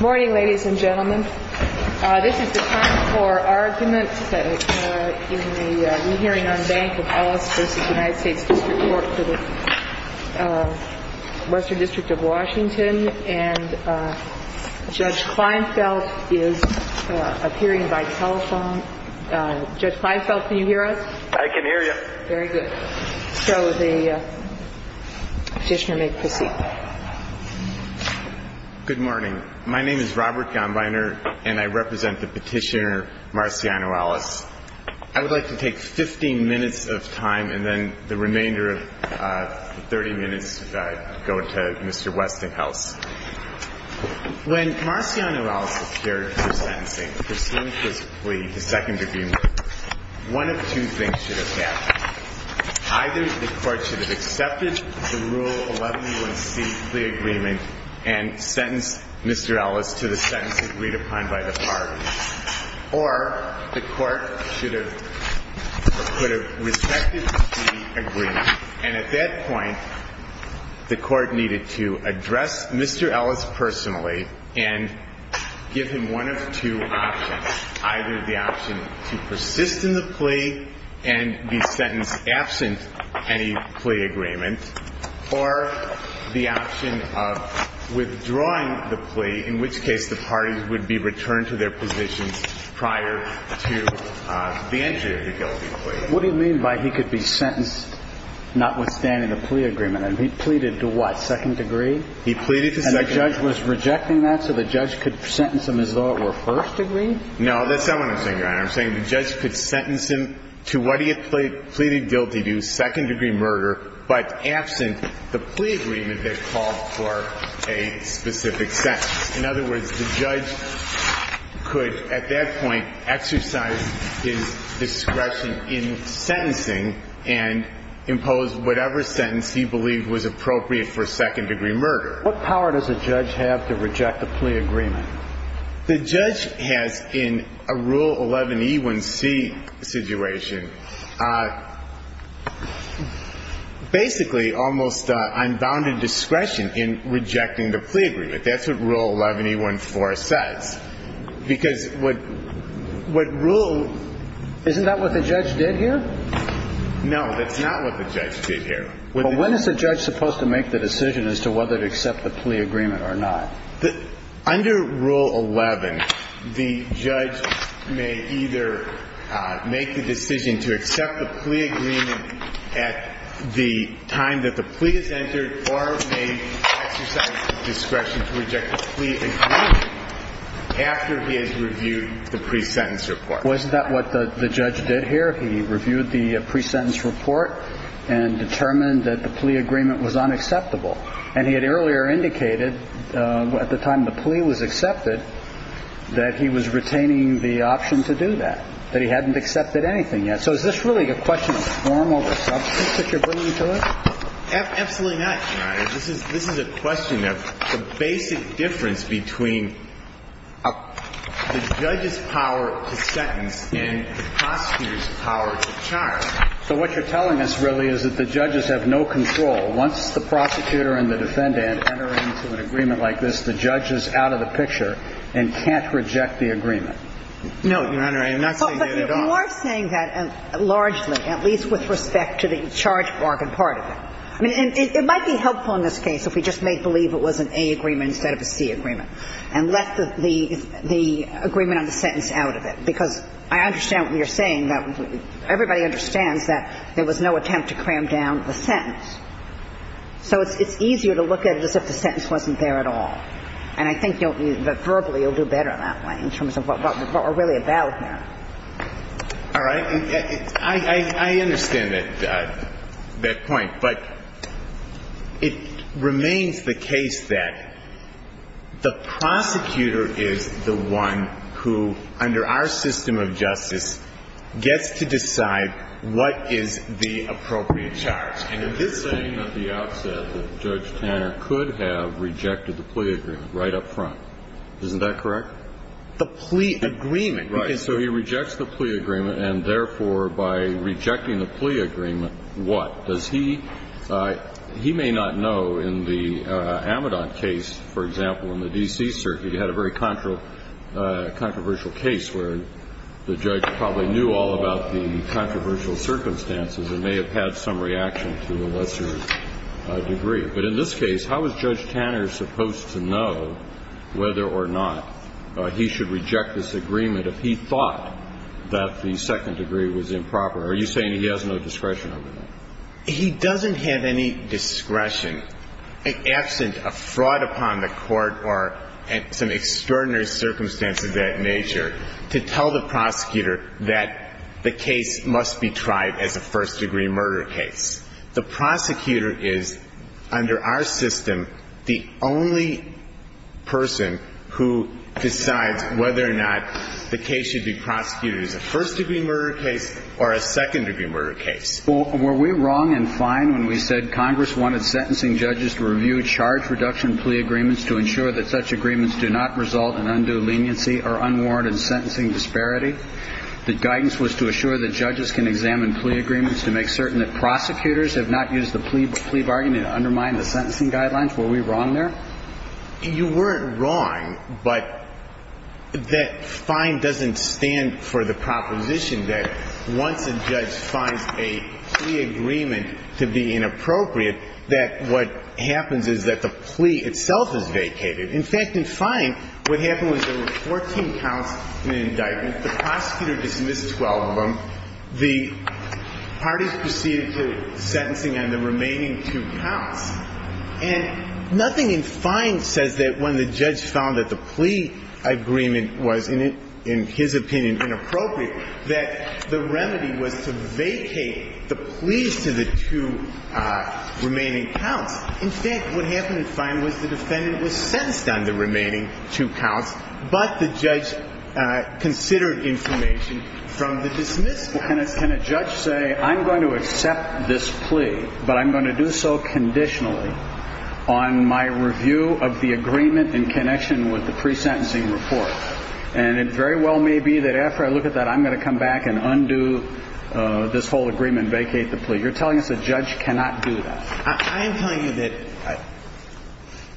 Morning, ladies and gentlemen. This is the time for arguments in the re-hearing on Bank of Los Angeles v. USDC-W.W. and Judge Kleinfeld is appearing by telephone. Judge Kleinfeld, can you hear us? I can hear you. Very good. So the petitioner may proceed. Good morning. My name is Robert Gombiner and I represent the petitioner Marciano Ellis. I would like to take 15 minutes of time and then the remainder of 30 minutes to go to Mr. Westinghouse. When Marciano Ellis appeared for sentencing, pursuant to the plea, the second agreement, one of two things should have happened. Either the court should have accepted the Rule 11-1 C, the agreement, and sentenced Mr. Ellis to the sentence agreed upon by the parties, or the court should have rejected the agreement and at that point the court needed to address Mr. Ellis personally and give him one of two options. Either the option to persist in the plea and be sentenced absent any plea agreement, or the option of withdrawing the plea, in which case the parties would be returned to their positions prior to the entry of the guilty plea. What do you mean by he could be sentenced not withstanding a plea agreement? He pleaded to what? Second degree? He pleaded to second degree. And the judge was rejecting that so the judge could sentence him as though it were first degree? No, that's not what I'm saying, Your Honor. I'm saying the judge could sentence him to what he had pleaded guilty to, second degree murder, but absent the plea agreement that called for a specific sentence. In other words, the judge could at that point exercise his discretion in sentencing and impose whatever sentence he believed was appropriate for second degree murder. What power does the judge have to reject the plea agreement? The judge has, in a Rule 11E1C situation, basically almost unbounded discretion in rejecting the plea agreement. That's what Rule 11E1C says. Isn't that what the judge did here? No, that's not what the judge did here. When is the judge supposed to make the decision as to whether to accept the plea agreement or not? Under Rule 11, the judge may either make the decision to accept the plea agreement at the time that the plea is entered or may exercise discretion to reject the plea agreement after he has reviewed the pre-sentence report. Wasn't that what the judge did here? He reviewed the pre-sentence report and determined that the plea agreement was unacceptable. And he had earlier indicated, at the time the plea was accepted, that he was retaining the option to do that, that he hadn't accepted anything yet. So is this really a question of formal or substance that you're bringing to us? Absolutely not, Your Honor. This is a question of the basic difference between the judge's power to sentence and the prosecutor's power to charge. So what you're telling us, really, is that the judges have no control. Once the prosecutor and the defendant enter into an agreement like this, the judge is out of the picture and can't reject the agreement. No, Your Honor, I'm not saying that at all. You are saying that largely, at least with respect to the charge bargain part of it. I mean, it might be helpful in this case if we just made believe it was an A agreement instead of a C agreement and left the agreement on the sentence out of it. Because I understand what you're saying. Everybody understands that there was no attempt to cram down the sentence. So it's easier to look at it as if the sentence wasn't there at all. And I understand that point. But it remains the case that the prosecutor is the one who, under our system of justice, gets to decide what is the appropriate charge. And you're saying that the opposite, that Judge Tanner could have rejected the plea agreement right up front. Isn't that correct? The plea agreement? Right. So he rejects the plea agreement. And therefore, by rejecting the plea agreement, what? He may not know in the Amidon case, for example, in the D.C. circuit, you had a very controversial case where the judge probably knew all about the controversial circumstances and may have had some reaction to a lesser degree. But in this case, how is Judge Tanner supposed to know whether or not he should reject this agreement if he thought that the second degree was improper? Are you saying he has no discretion over that? He doesn't have any discretion. In essence, a fraud upon the court or some extraordinary circumstances of that nature, to tell the prosecutor that the case must be tried as a first degree murder case. The prosecutor is, under our system, the only person who decides whether or not the case should be prosecuted as a first degree murder case or a second degree murder case. Well, were we wrong and fine when we said Congress wanted sentencing judges to review charge reduction plea agreements to ensure that such agreements do not result in undue leniency or unwarranted sentencing disparity? The guidance was to assure that judges can examine plea agreements to make certain that prosecutors have not used the plea bargain to undermine the sentencing guidelines. Were we wrong there? You weren't wrong, but that fine doesn't stand for the proposition that once a judge finds a plea agreement to be inappropriate, that what happens is that the plea itself is vacated. In fact, in fine, what happened was there were 14 counts in the indictment. The prosecutor dismissed 12 of them. The parties proceeded to sentencing on the remaining two counts. And nothing in fine says that when the judge found that the plea agreement was, in his opinion, inappropriate, that the remedy was to vacate the pleas to the two remaining counts. In fact, what happened in fine was the defendant was sentenced on the 14th. I'm going to accept this plea, but I'm going to do so conditionally on my review of the agreement in connection with the pre-sentencing report. And it very well may be that after I look at that, I'm going to come back and undo this whole agreement and vacate the plea. You're telling us the judge cannot do that. I am telling you that,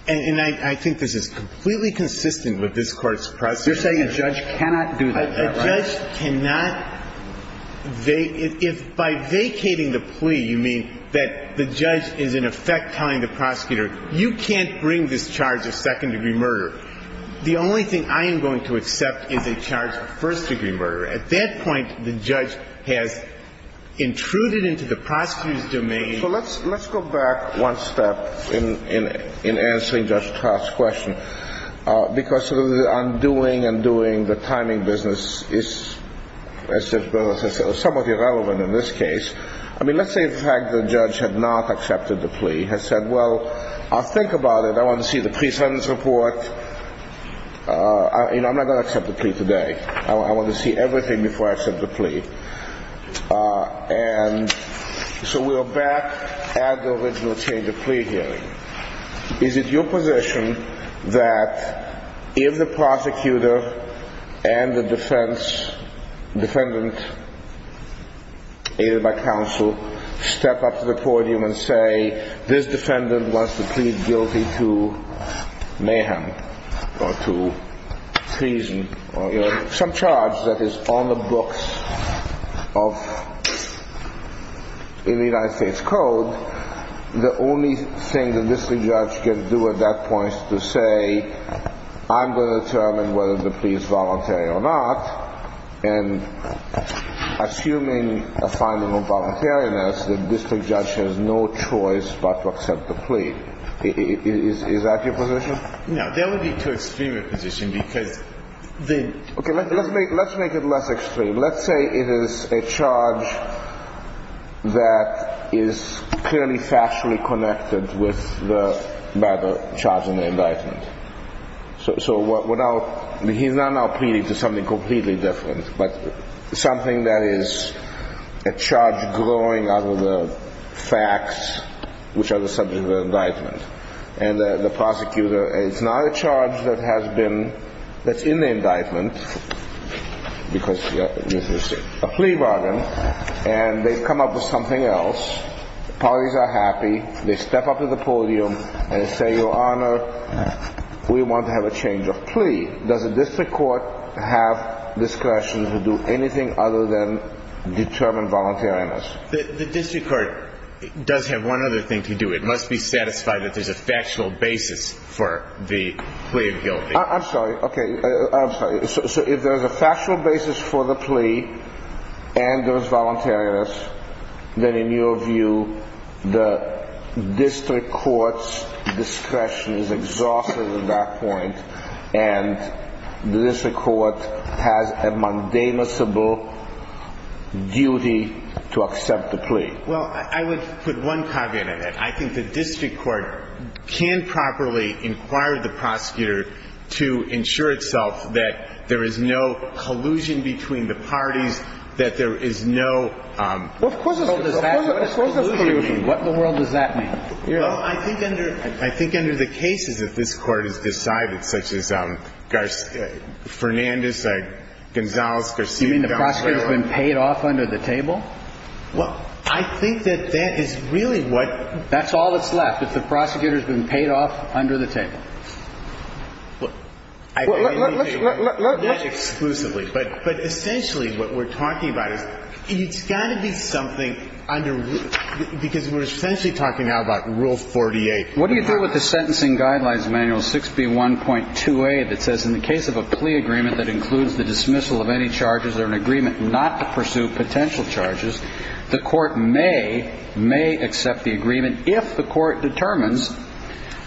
and I think this is completely consistent with this Court's process. You're saying a judge cannot do that. A judge cannot. If by vacating the plea, you mean that the judge is in effect telling the prosecutor, you can't bring this charge of second-degree murder. The only thing I am going to accept is a charge of first-degree murder. At that point, the judge has intruded into the prosecutor's domain. Let's go back one step in answering Judge Trott's question, because undoing and doing the timing business is somewhat irrelevant in this case. Let's say the judge has not accepted the plea, has said, well, I'll think about it. I want to see the pre-sentence report. I'm not going to accept the plea today. I want to see everything before I accept the plea. So we're back at the original change of plea here. Is it your position that if the prosecutor and the defendant is a counsel, step up to the podium and say, this defendant wants to plead guilty to mayhem or to treason or some charge that is on the books of the United States Code, the only thing the district judge can do at that point is to say, I'm going to determine whether the plea is voluntary or not. And assuming a final voluntariness, the district judge has no choice but to accept the plea. Is that your position? No, that would be too extreme a position to take. OK, let's make it less extreme. Let's say it is a charge that is clearly factually connected with the matter charged in the indictment. So he's not now pleading to something completely different, but something that is a charge growing out of the facts, which are the subject of the indictment. And the prosecutor, it's not a charge that's in the indictment, because this is a plea bargain, and they've come up with something else. The parties are happy. They step up to the podium and say, your honor, we want to have a change of plea. Does the district court have discretion to do anything other than determine voluntariness? The district court does have one other thing to do. It must be satisfied that there's a factional basis for the plea of guilty. I'm sorry. OK, I'm sorry. So if there's a factional basis for the plea, and there's voluntariness, then in your view, the district court's discretion is exhausted at that point, and the district court has a mundane or simple duty to accept the plea? Well, I would put one cog in it. I think the district court can properly inquire the prosecutor to ensure itself that there is no collusion between the parties, that there is no... Of course there's collusion. What in the world does that mean? Well, I think under the cases that this court has decided, such as Fernandez, Gonzales... You mean the prosecutor's been paid off under the table? Well, I think that's really what... That's all that's left, that the prosecutor's been paid off under the table. Well, let's... Not exclusively, but essentially what we're talking about, there's got to be something because we're essentially talking now about Rule 48. What do you do with the Sentencing Guidelines Manual 6B1.2a that says, in the case of a plea agreement that includes the dismissal of any charges or an agreement not to pursue potential charges, the court may, may accept the agreement if the court determines,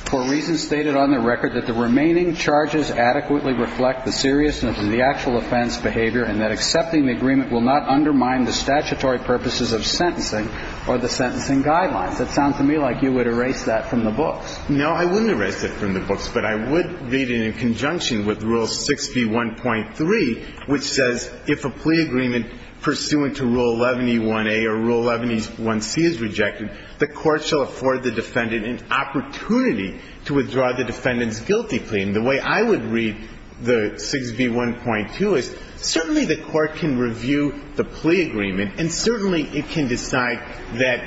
for reasons stated on the record, that the remaining charges adequately reflect the seriousness of the actual offense behavior and that accepting the agreement will not undermine the statutory purposes of sentencing or the sentencing guidelines. It sounds to me like you would erase that from the books. No, I wouldn't erase it from the books, but I would read it in conjunction with Rule 6B1.3, which says, if a plea agreement pursuant to Rule 11E1a or Rule 11E1c is rejected, the court shall afford the defendant an opportunity to withdraw the defendant's guilty claim. The way I would read the 6B1.2 is, certainly the court can review the plea agreement and certainly it can decide that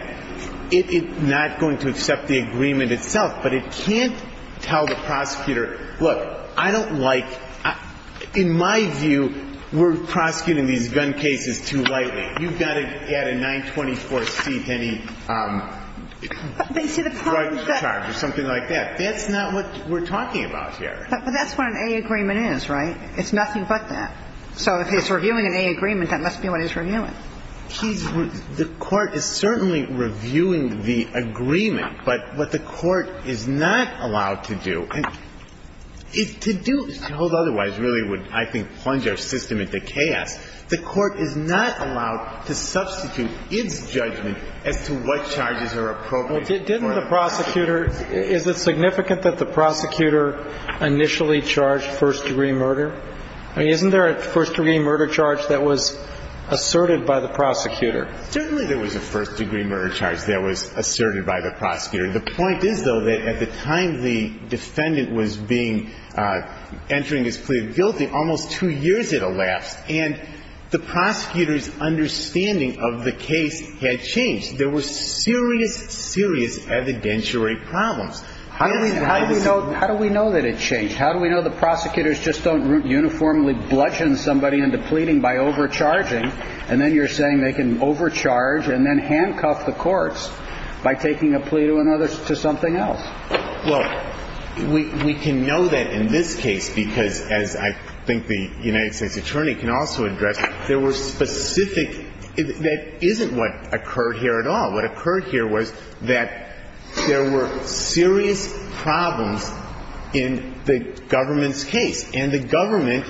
it is not going to accept the agreement itself, but it can't tell the prosecutor, look, I don't like, in my view, we're prosecuting these gun cases too lightly. You've got to add a 924c to any charge or something like that. That's not what we're talking about here. But that's what an a-agreement is, right? It's nothing but that. So if it's reviewing an a-agreement, that must be what it's reviewing. The court is certainly reviewing the agreement, but what the court is not allowed to do, to hold otherwise really would, I think, plunge our system into chaos. The court is not allowed to substitute its judgment as to what charges are appropriate. Didn't the prosecutor, is it significant that the prosecutor initially charged first-degree murder? I mean, isn't there a first-degree murder charge that was asserted by the prosecutor? Certainly there was a first-degree murder charge that was asserted by the prosecutor. The point is, though, that at the time the defendant was entering his plea of guilty, almost two years had elapsed, and the prosecutor's understanding of the case had changed. There was serious, serious evidentiary problems. How do we know that it changed? How do we know the prosecutors just don't uniformly bludgeon somebody into pleading by overcharging, and then you're saying they can overcharge and then handcuff the courts by taking a plea to something else? Well, we can know that in this case because, as I think the United States Attorney can also address, there was specific – that isn't what occurred here at all. What occurred here was that there were serious problems in the government's case, and the government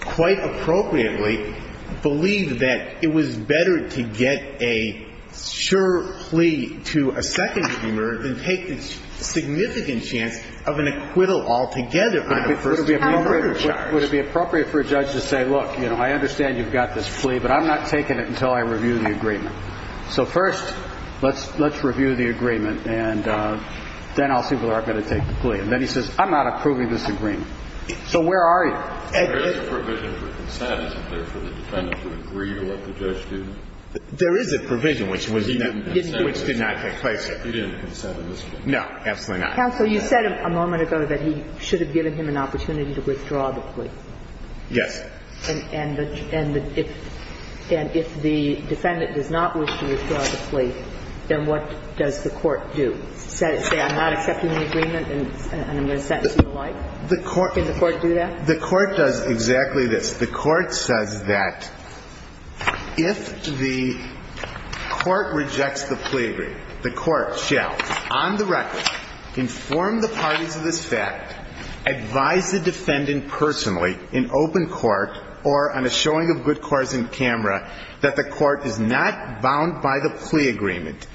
quite appropriately believed that it was better to get a sure plea to a second-degree murder than take the significant chance of an acquittal altogether. Would it be appropriate for a judge to say, look, you know, I understand you've got this plea, but I'm not taking it until I review the agreement. So first, let's review the agreement, and then I'll see whether I've got to take the plea. And then he says, I'm not approving this agreement. So where are you? There is a provision for consent for the defendant to agree to what the judge did. There is a provision which was – He didn't consent to this. Which did not take place yet. He didn't consent to this. No, absolutely not. Counsel, you said a moment ago that he should have given him an opportunity to withdraw the plea. Yes. And if the defendant does not wish to withdraw the plea, then what does the court do? Does it say, I'm not accepting the agreement, and I'm going to sentence you to life? Can the court do that? The court does exactly this. The court says that if the court rejects the plea agreement, the court shall, on the record, inform the parties of this fact, advise the defendant personally in open court or on a showing of good cause in camera that the court is not bound by the plea agreement,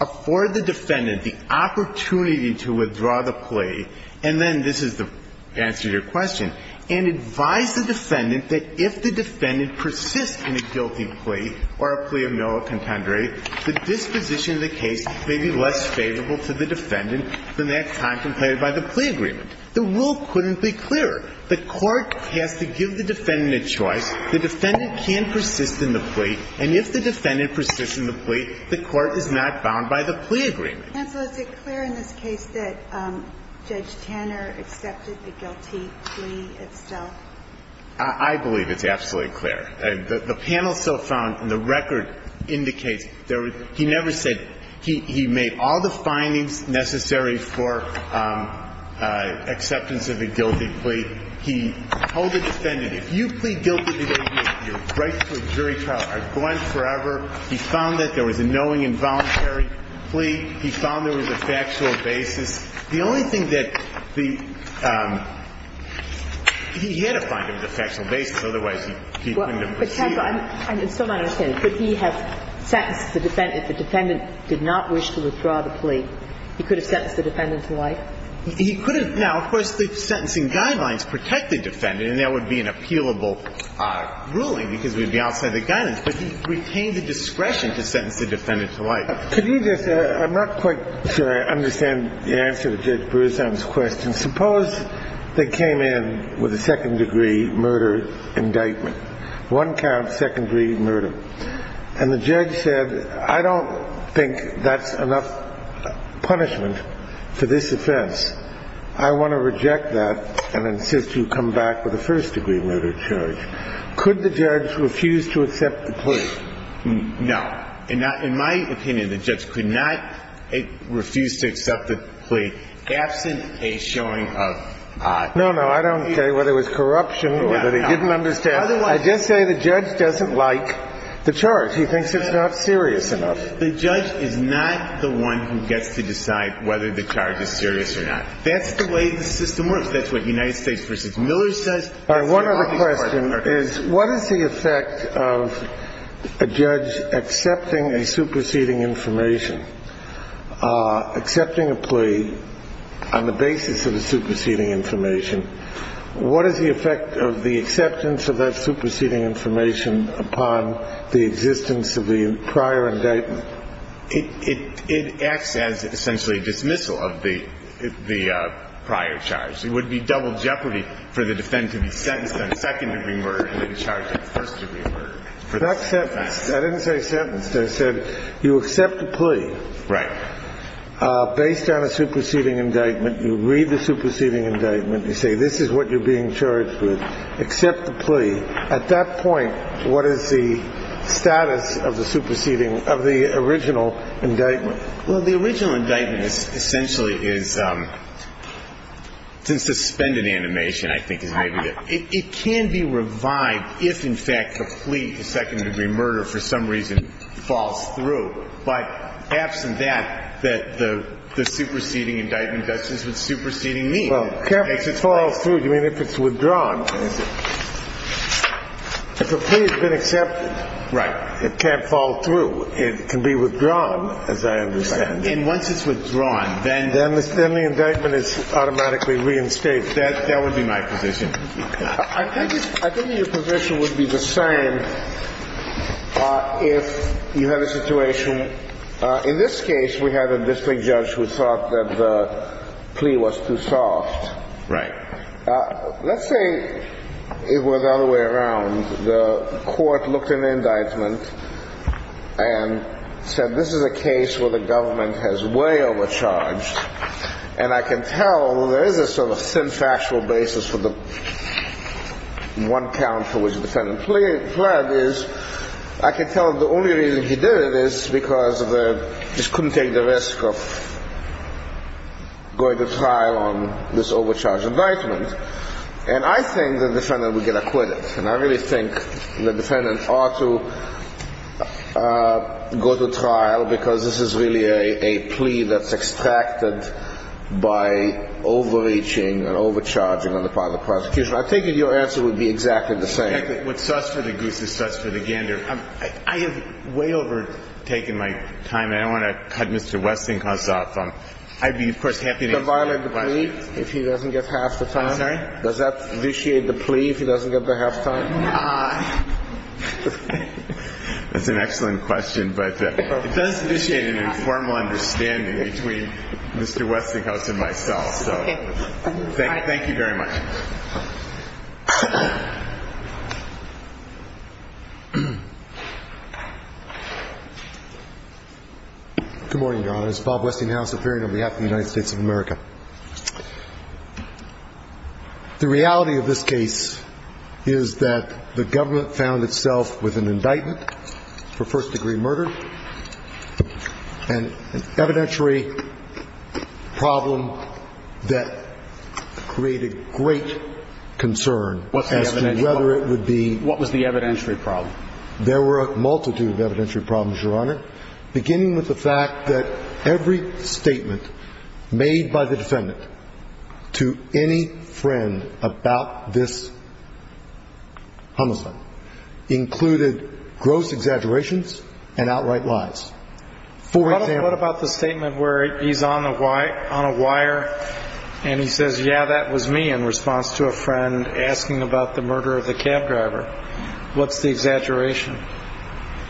afford the defendant the opportunity to withdraw the plea, and then this is the answer to your question, and advise the defendant that if the defendant persists in a guilty plea or a plea of male contender, that this position of the case may be less favorable to the defendant than that contemplated by the plea agreement. The rule couldn't be clearer. The court has to give the defendant a choice. The defendant can't persist in the plea, and if the defendant persists in the plea, the court is not bound by the plea agreement. And was it clear in this case that Judge Tanner accepted the guilty plea itself? I believe it's absolutely clear. The panel still found, and the record indicates, he never said he made all the findings necessary for acceptance of a guilty plea. He told the defendant, if you plead guilty to this case, your rights to a jury trial are gone forever. He found that there was a knowing involuntary plea. He found there was a factual basis. The only thing that the – he had to find there was a factual basis. Otherwise, he couldn't have proceeded. I'm just trying to understand. If he had sentenced the defendant, the defendant did not wish to withdraw the plea, he could have sentenced the defendant to life? He could have. Now, of course, the sentencing guidelines protect the defendant, and that would be an appealable ruling because it would be outside the guidance, but he retained the discretion to sentence the defendant to life. Could you just – I'm not quite sure I understand the answer to Judge Berzan's question. Suppose they came in with a second-degree murder indictment, one count, second-degree murder, and the judge said, I don't think that's enough punishment for this offense. I want to reject that and insist you come back with a first-degree murder charge. Could the judge refuse to accept the plea? No. In my opinion, the judge could not refuse to accept the plea. That's a showing of – No, no, I don't care whether it was corruption or that he didn't understand. I did say the judge doesn't like the charge. He thinks it's not serious enough. The judge is not the one who gets to decide whether the charge is serious or not. That's the way the system works. That's what United States Justice Miller says. One other question is, what is the effect of a judge accepting a superseding information, accepting a plea on the basis of a superseding information, what is the effect of the acceptance of that superseding information upon the existence of the prior indictment? It acts as essentially a dismissal of the prior charge. It would be double jeopardy for the defendant to be sentenced on second-degree murder and be charged on first-degree murder. I didn't say sentence. I said you accept the plea. Right. Based on a superseding indictment, you read the superseding indictment, you say this is what you're being charged with, accept the plea. At that point, what is the status of the superseding, of the original indictment? Well, the original indictment essentially is to suspend an animation, I think is the idea. It can be revived if, in fact, the plea to second-degree murder for some reason falls through. But asking that, the superseding indictment, that's what superseding means. Well, if it falls through, you mean if it's withdrawn. If the plea has been accepted. Right. If it can't fall through, it can be withdrawn, as I understand. And once it's withdrawn, then the indictment is automatically reinstated. That would be my position. I think your position would be the same if you had a situation. In this case, we have a district judge who thought that the plea was too soft. Right. Let's say it went all the way around. The court looked at an indictment and said this is a case where the government has way overcharged. And I can tell there is a sort of thin factual basis for the one counter which the defendant pled is, I can tell the only reason he did it is because of the, he couldn't take the risk of going to trial on this overcharged indictment. And I think the defendant would get acquitted. And I really think the defendant ought to go to trial because this is really a plea that's extracted by overreaching and overcharging on the part of the prosecution. I think your answer would be exactly the same. I have way overtaken my time. I want to cut Mr. Westinghouse off. I'd be happy to answer your question. Does that violate the plea if he doesn't get to have the time? Sorry? Does that vitiate the plea if he doesn't get to have time? It's an excellent question. But it does vitiate an informal understanding between Mr. Westinghouse and myself. Thank you very much. Good morning, Your Honor. This is Bob Westinghouse, a hearing on behalf of the United States of America. The reality of this case is that the government found itself with an indictment for first-degree murder, an evidentiary problem that created great concern as to whether it would be... What was the evidentiary problem? There were a multitude of evidentiary problems, Your Honor, beginning with the fact that every statement made by the defendant to any friend about this homicide included gross exaggerations and outright lies. What about the statement where he's on a wire and he says, yeah, that was me in response to a friend asking about the murder of the cab driver? What's the exaggeration?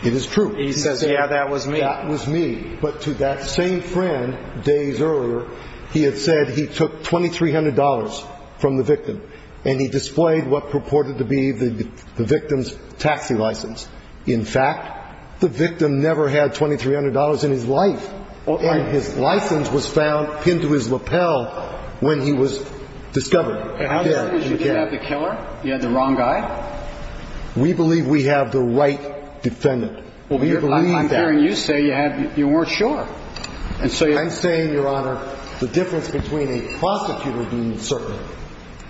It is true. He says, yeah, that was me. That was me. But to that same friend days earlier, he had said he took $2,300 from the victim and he displayed what purported to be the victim's taxi license. In fact, the victim never had $2,300 in his life, and his license was found pinned to his lapel when he was discovered. You didn't have the killer? You had the wrong guy? We believe we have the right defendant. I'm hearing you say you weren't sure. I'm saying, Your Honor, the difference between a prostitute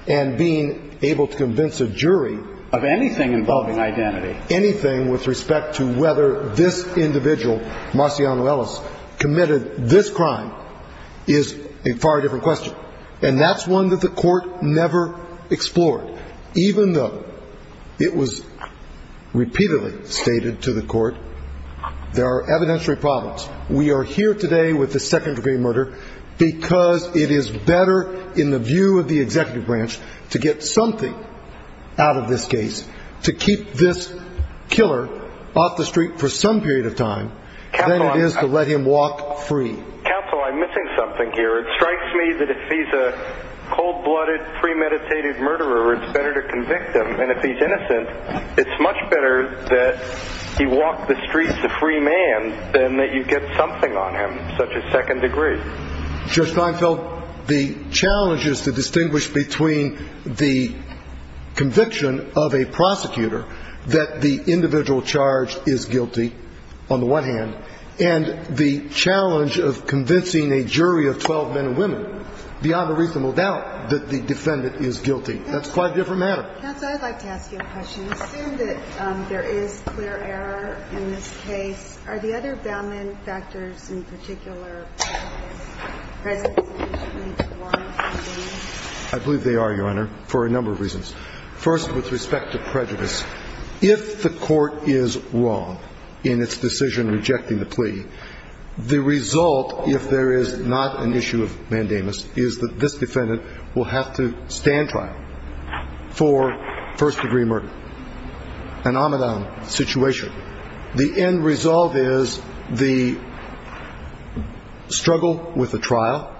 and being able to convince a jury of anything involving identity, anything with respect to whether this individual, Marciano Ellis, committed this crime, is a far different question. And that's one that the court never explored. Even though it was repeatedly stated to the court, there are evidentiary problems. We are here today with the second-degree murder because it is better, in the view of the executive branch, to get something out of this case to keep this killer off the street for some period of time than it is to let him walk free. Counsel, I'm missing something here. It strikes me that if he's a cold-blooded, premeditated murderer, it's better to convict him. And if he's innocent, it's much better that he walk the streets a free man than that you get something on him, such as second-degree. Judge Steinfeld, the challenge is to distinguish between the conviction of a prosecutor that the individual charged is guilty, on the one hand, and the challenge of convincing a jury of 12 men and women. The honorable doubt that the defendant is guilty. That's quite a different matter. Counsel, I'd like to ask you a question. Assuming that there is clear error in this case, are the other bailment factors in particular prejudices to be formed? I believe they are, Your Honor, for a number of reasons. First, with respect to prejudice, if the court is wrong in its decision rejecting the plea, the result, if there is not an issue of mandamus, is that this defendant will have to stand trial for first-degree murder. An on-and-on situation. The end result is the struggle with the trial,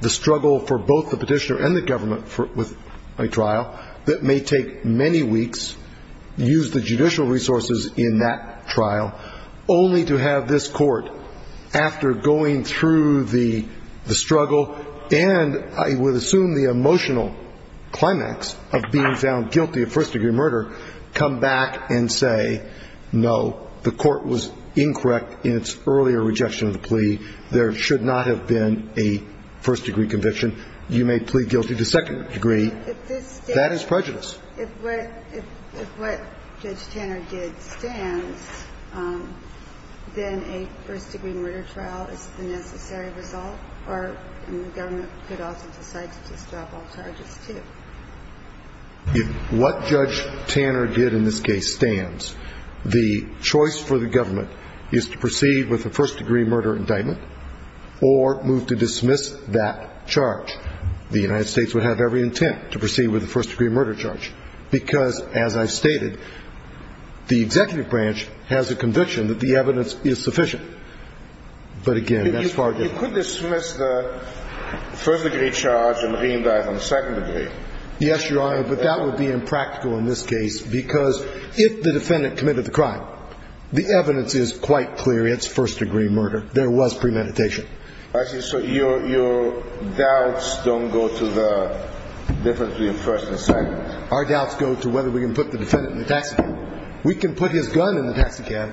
the struggle for both the petitioner and the government with a trial that may take many weeks, use the judicial resources in that trial, only to have this court, after going through the struggle and I would assume the emotional climax of being found guilty of first-degree murder, come back and say, no, the court was incorrect in its earlier rejection of the plea. There should not have been a first-degree conviction. You may plead guilty to second-degree. That is prejudice. If what Judge Tanner did stands, then a first-degree murder trial is a necessary result, or the government could also decide to drop all charges, too. If what Judge Tanner did in this case stands, the choice for the government is to proceed with a first-degree murder indictment or move to dismiss that charge. The United States would have every intent to proceed with a first-degree murder charge because, as I've stated, the executive branch has a conviction that the evidence is sufficient. But again, that's far different. You could dismiss the first-degree charge and re-indict on second-degree. Yes, Your Honor, but that would be impractical in this case because if the defendant committed the crime, the evidence is quite clear it's first-degree murder. There was premeditation. So your doubts don't go to the difference between first and second? Our doubts go to whether we can put the defendant in the taxi cab. We can put his gun in the taxi cab.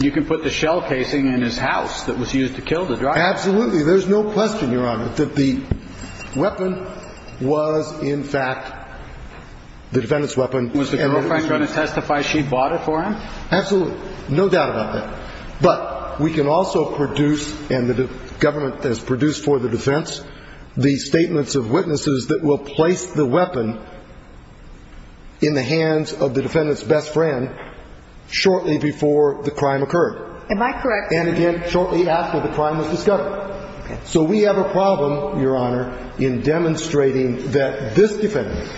You can put the shell casing in his house that was used to kill the driver. Absolutely. There's no question, Your Honor, that the weapon was, in fact, the defendant's weapon. And were you going to testify she bought it for him? Absolutely. No doubt about that. But we can also produce, and the government has produced for the defense, the statements of witnesses that will place the weapon in the hands of the defendant's best friend shortly before the crime occurred. Am I correct? And again, shortly after the crime was discovered. So we have a problem, Your Honor, in demonstrating that this defendant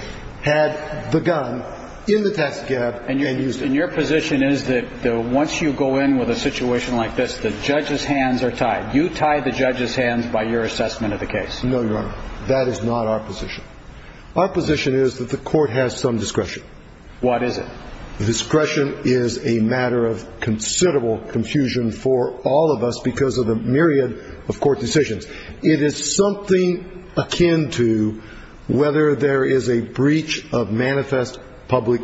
had the gun in the taxi cab. And your position is that once you go in with a situation like this, the judge's hands are tied. You tied the judge's hands by your assessment of the case. No, Your Honor. That is not our position. Our position is that the court has some discretion. What is it? Discretion is a matter of considerable confusion for all of us because of the myriad of court decisions. It is something akin to whether there is a breach of manifest public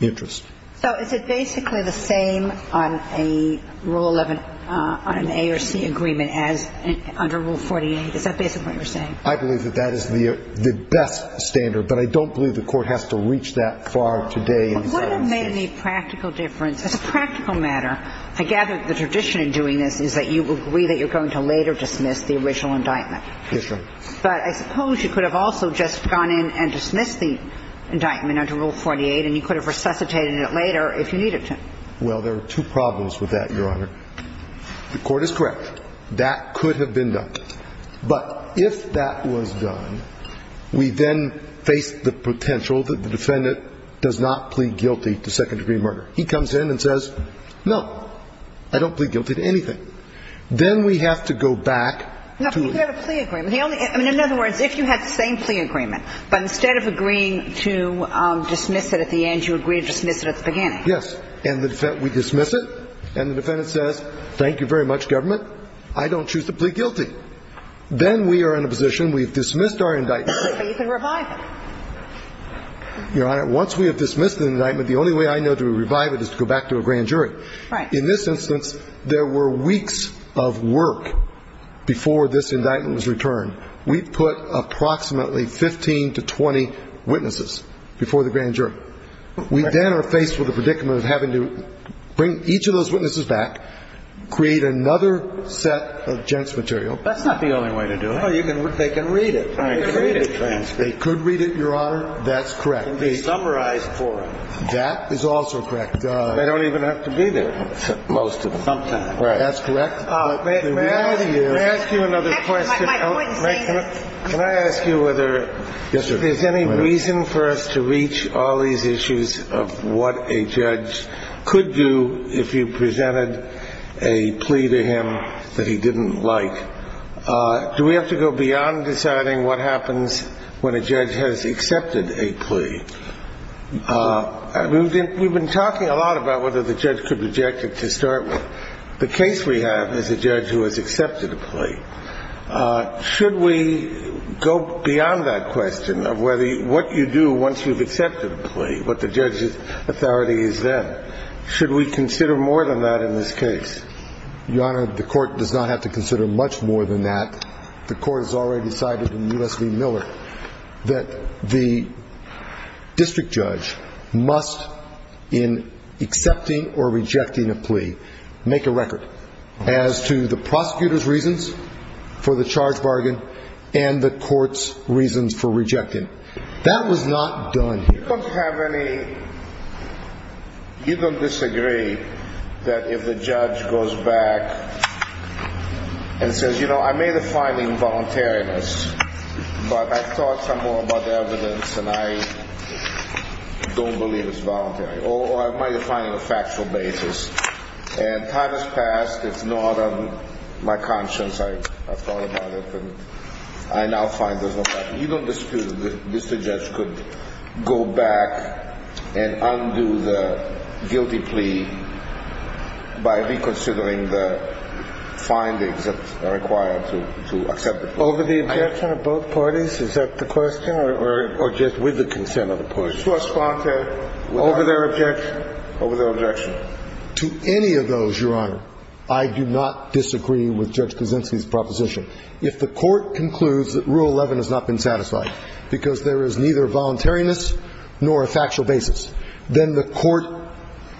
interest. So is it basically the same on a rule of an A or C agreement as under Rule 48? Is that basically what you're saying? I believe that that is the best standard. But I don't believe the court has to reach that far today. What has made the practical difference? As a practical matter, to gather the tradition in doing this, is that you agree that you're going to later dismiss the original indictment. Yes, ma'am. But I suppose you could have also just gone in and dismissed the indictment under Rule 48 and you could have resuscitated it later if you needed to. Well, there are two problems with that, Your Honor. The court is correct. That could have been done. But if that was done, we then face the potential that the defendant does not plead guilty to second-degree murder. He comes in and says, no, I don't plead guilty to anything. Then we have to go back. In other words, if you had the same C agreement, but instead of agreeing to dismiss it at the end, you agreed to dismiss it at the beginning. Yes, and we dismiss it, and the defendant says, thank you very much, government. I don't choose to plead guilty. Then we are in a position, we've dismissed our indictment. But you can revive it. Your Honor, once we have dismissed the indictment, the only way I know to revive it is to go back to a grand jury. In this instance, there were weeks of work before this indictment was returned. We put approximately 15 to 20 witnesses before the grand jury. We then are faced with the predicament of having to bring each of those witnesses back, create another set of gents material. That's not the only way to do it. They can read it. They could read it, Your Honor. That's correct. It can be summarized for them. That is also correct, Your Honor. They don't even have to be there, most of them. That's correct. May I ask you another question? Can I ask you whether there's any reason for us to reach all these issues of what a judge could do if you presented a plea to him that he didn't like? Do we have to go beyond deciding what happens when a judge has accepted a plea? We've been talking a lot about whether the judge could reject it to start with. The case we have is a judge who has accepted a plea. Should we go beyond that question of what you do once you've accepted the plea, what the judge's authority is then? Should we consider more than that in this case? Your Honor, the court does not have to consider much more than that. The court has already decided in U.S. v. Miller that the district judge must, in accepting or rejecting a plea, make a record as to the prosecutor's reasons for the charge bargain and the court's reasons for rejecting. That was not done here. Does the court have any... You don't disagree that if the judge goes back and says, you know, I made a fine involuntariness, but I thought some more about the evidence and I don't believe it's voluntary, or I made a fine on a factual basis, and time has passed. It's not on my conscience. I thought about it and I now find there's no doubt. You don't disagree that the district judge could go back and undo the guilty plea by reconsidering the findings that are required to accept the plea? Over the objection of both parties? Is that the question? Or just with the consent of the parties? First contact. Over their objection? Over their objection. To any of those, Your Honor, I do not disagree with Judge Krasinski's proposition. If the court concludes that Rule 11 has not been satisfied because there is neither voluntariness nor a factual basis, then the court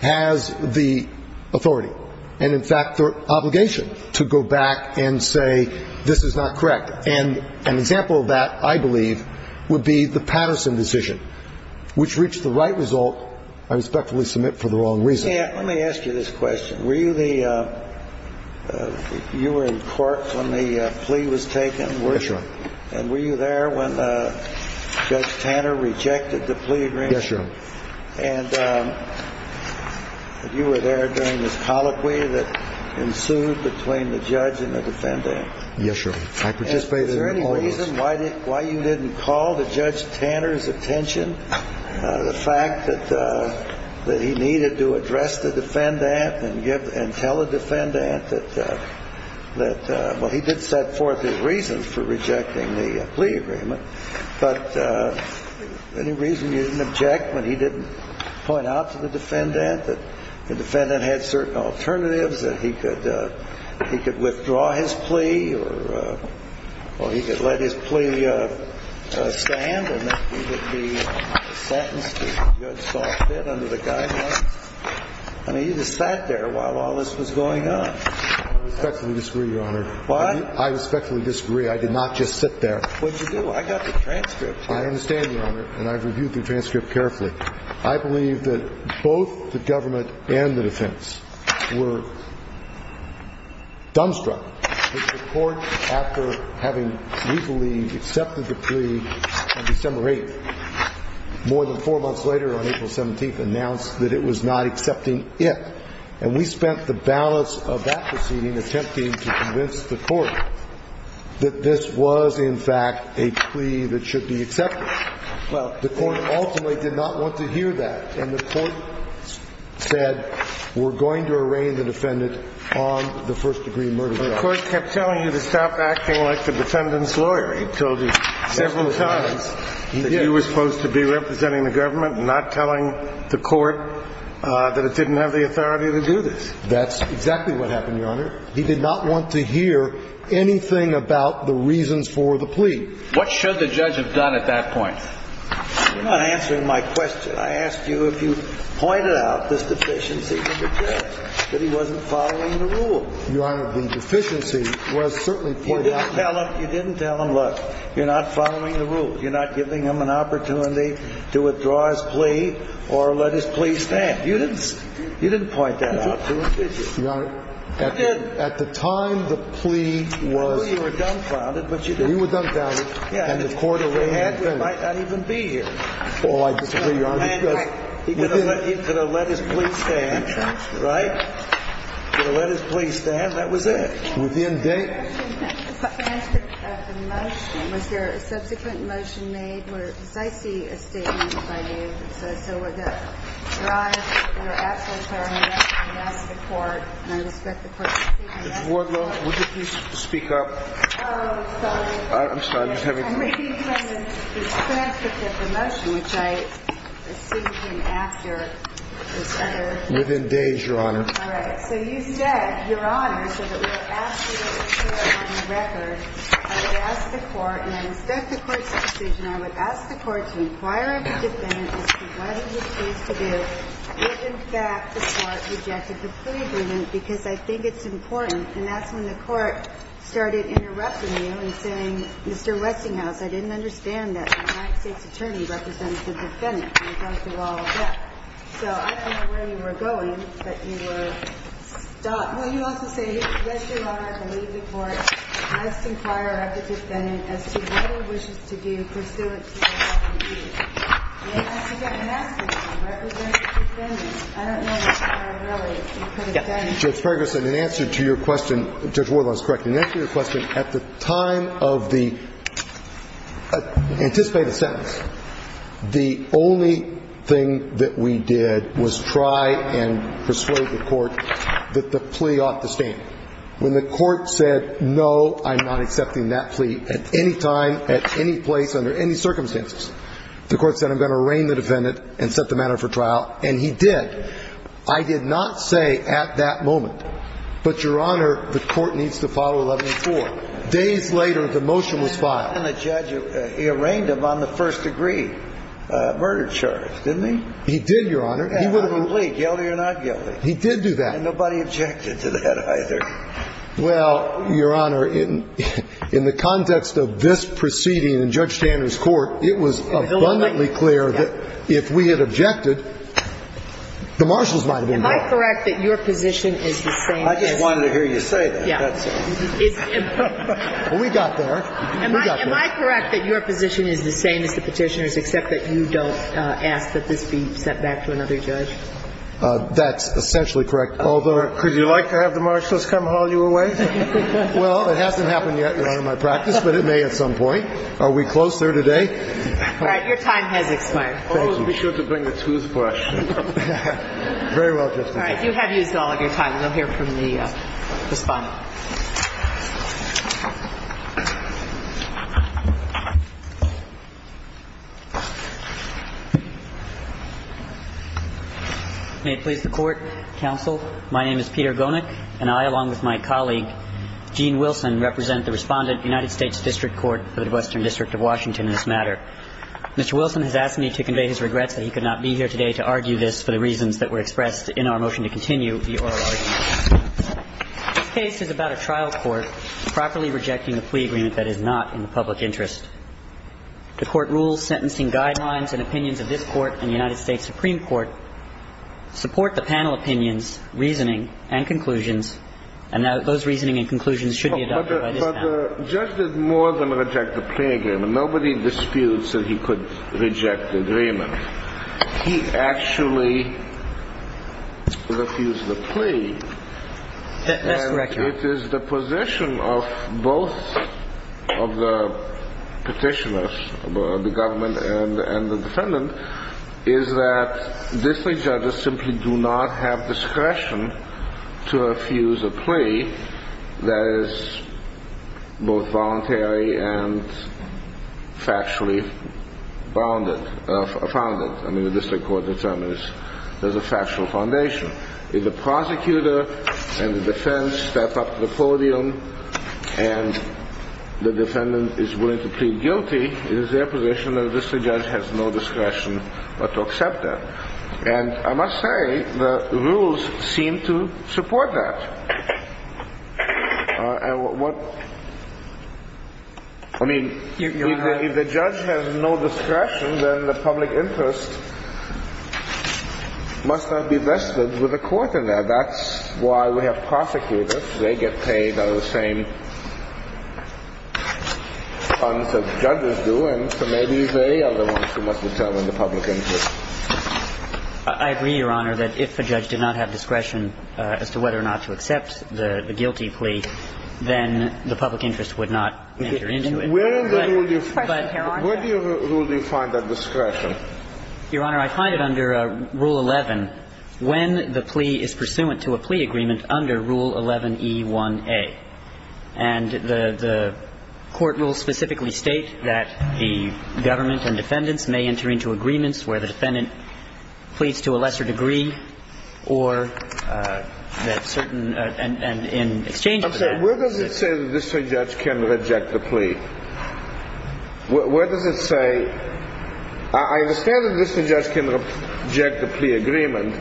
has the authority and, in fact, the obligation to go back and say this is not correct. And an example of that, I believe, would be the Patterson decision, which reached the right result and respectfully submit for the wrong reason. Let me ask you this question. Were you in court when the plea was taken? Yes, Your Honor. And were you there when Judge Tanner rejected the plea agreement? Yes, Your Honor. And you were there during the colloquy that ensued between the judge and the defendant? Yes, Your Honor. Is there any reason why you didn't call the Judge Tanner's attention to the fact that he needed to address the defendant and tell the defendant that, well, he did set forth his reasons for rejecting the plea agreement, but any reason you didn't object when he didn't point out to the defendant that the defendant had certain alternatives, that he could withdraw his plea or he could let his plea stand and that he could be sentenced to a good, soft bed under the guidelines? I mean, you just sat there while all this was going on. I respectfully disagree, Your Honor. What? I respectfully disagree. I did not just sit there. What did you do? I got the transcript. I understand, Your Honor, and I reviewed the transcript carefully. I believe that both the government and the defense were dumbstruck that the court, after having legally accepted the plea, had disseminated it. More than four months later, on April 17th, announced that it was not accepting it, and we spent the balance of that proceeding attempting to convince the court that this was, in fact, a plea that should be accepted. Well, the court ultimately did not want to hear that, and the court said, we're going to arraign the defendant on the first-degree murder charge. But the court kept telling you to stop acting like the defendant's lawyer until he was supposed to be representing the government and not telling the court that it didn't have the authority to do this. That's exactly what happened, Your Honor. He did not want to hear anything about the reasons for the plea. What should the judge have done at that point? You're not answering my question. I asked you if you pointed out the sufficiency of the judge, that he wasn't following the rules. Your Honor, the sufficiency was certainly pointed out. You didn't tell him, look, you're not following the rules. You're not giving him an opportunity to withdraw his plea or let his plea stand. You didn't point that out to him, did you? Your Honor, at the time the plea was… You knew you were dumbfounded, but you didn't. He was dumbfounded, and the court arraigned the defendant. The man could not even be here. He could have let his plea stand, right? He could have let his plea stand. That was it. Within days. I think that the motion, was there a subsequent motion made where it might be a statement by you that says, so we're going to drive your actual parole out of the court, and I would expect the court to speak to that. Would you please speak up? Oh, sorry. I'm sorry. I'm making a request to get the motion, which I received him after. Within days, Your Honor. All right. So you said, Your Honor, because it was an absolute record, I would ask the court, and I would expect the court to speak, and I would ask the court to inquire into the defendant as to what he was pleased to do if, in fact, the court rejected the plea agreement, because I think it's important. And that's when the court started interrupting you and saying, Mr. Reckinghoff, I didn't understand that my state's attorney represented the defendant. So I don't know where you were going, but you were stopped. Well, you also say, Yes, Your Honor, I believe the court has to inquire of the defendant as to what he wishes to do for his own self-improvement. And I think that's an accident. He represents the defendant. I don't know if that's what I really understand. Judge Ferguson, in answer to your question, Judge Wardle is correct. In answer to your question, at the time of the anticipated sentencing, the only thing that we did was try and persuade the court that the plea ought to stand. When the court said, No, I'm not accepting that plea at any time, at any place, under any circumstances, the court said, I'm going to arraign the defendant and set the matter for trial, and he did. I did not say at that moment. But, Your Honor, the court needs to follow 11-4. Days later, the motion was filed. And the judge, he arraigned him on the first degree murder charge, didn't he? He did, Your Honor. Yeah, absolutely. Guilty or not guilty. He did do that. And nobody objected to that either. Well, Your Honor, in the context of this proceeding in Judge Sanders' court, it was abundantly clear that if we had objected, the marshals might have been there. Am I correct that your position is the same as the petitioners, except that you don't ask that this be sent back to another judge? That's essentially correct. Could you like to have the marshals come haul you away? Well, it hasn't happened yet in my practice, but it may at some point. Are we close there today? All right, your time has expired. Always be sure to bring a toothbrush. All right, you have used all of your time. We'll hear from the respondent. May it please the court, counsel, my name is Peter Gomez, and I, along with my colleague, Gene Wilson, represent the respondent of the United States District Court for the Western District of Washington in this matter. Mr. Wilson has asked me to convey his regrets that he could not be here today to argue this for the reasons that were expressed in our motion to continue the oral argument. This case is about a trial court properly rejecting a plea agreement that is not in the public interest. The court rules sentencing guidelines and opinions of this court and the United States Supreme Court support the panel opinions, reasoning, and conclusions, and those reasoning and conclusions should be adopted by this panel. But the judge did more than reject the plea agreement. Nobody disputes that he could reject the agreement. He actually refused the plea, and it is the position of both of the petitioners, the government and the defendant, is that district judges simply do not have discretion to refuse a plea that is both voluntary and factually founded. I mean, the district court determines there's a factual foundation. If the prosecutor and the defense step up to the podium and the defendant is willing to plead guilty, it is their position that this judge has no discretion but to accept that. And I must say, the rules seem to support that. I mean, if the judge has no discretion, then the public interest must not be vested with the court in that. That's why we have prosecutors. They get paid by the same funds that judges do, and so maybe they are the ones who must determine the public interest. I agree, Your Honor, that if the judge did not have discretion as to whether or not to accept the guilty plea, then the public interest would not enter into it. Where in the rule do you find that discretion? Your Honor, I find it under Rule 11 when the plea is pursuant to a plea agreement under Rule 11E1A. And the court rule specifically states that the government and defendants may enter into agreements where the defendant pleads to a lesser degree and in exchange for that... I'm sorry, where does it say that this judge can reject a plea? Where does it say? I understand that this judge can reject the plea agreement,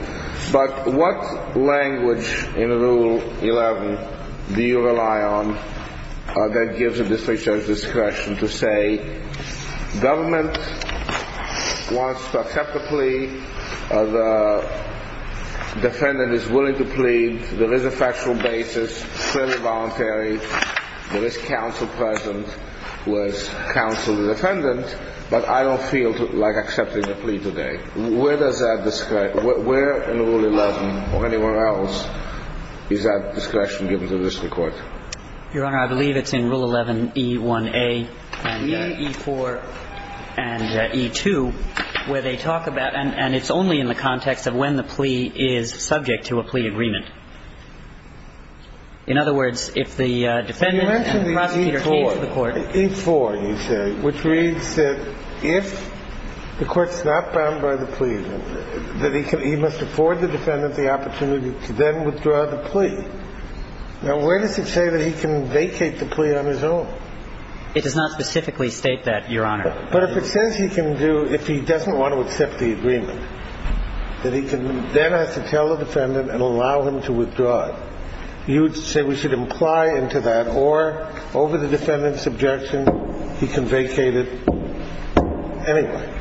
but what language in Rule 11 do you rely on that gives the district judge discretion to say, Government wants to accept the plea, the defendant is willing to plead, there is a factual basis, the defendant is voluntary, there is counsel present, whereas counsel is a defendant. But I don't feel like accepting the plea today. Where in Rule 11 or anywhere else is that discretion given to the district court? Your Honor, I believe it's in Rule 11E1A and E4 and E2 where they talk about, and it's only in the context of when the plea is subject to a plea agreement. In other words, if the defendant... Now, where does it say that he can vacate the plea on his own? It does not specifically state that, Your Honor. But if it says he can do, if he doesn't want to accept the agreement, that he can then have to tell the defendant and allow him to withdraw it, you would say we should imply into that, or over the defendant's objection, he can vacate it anyway.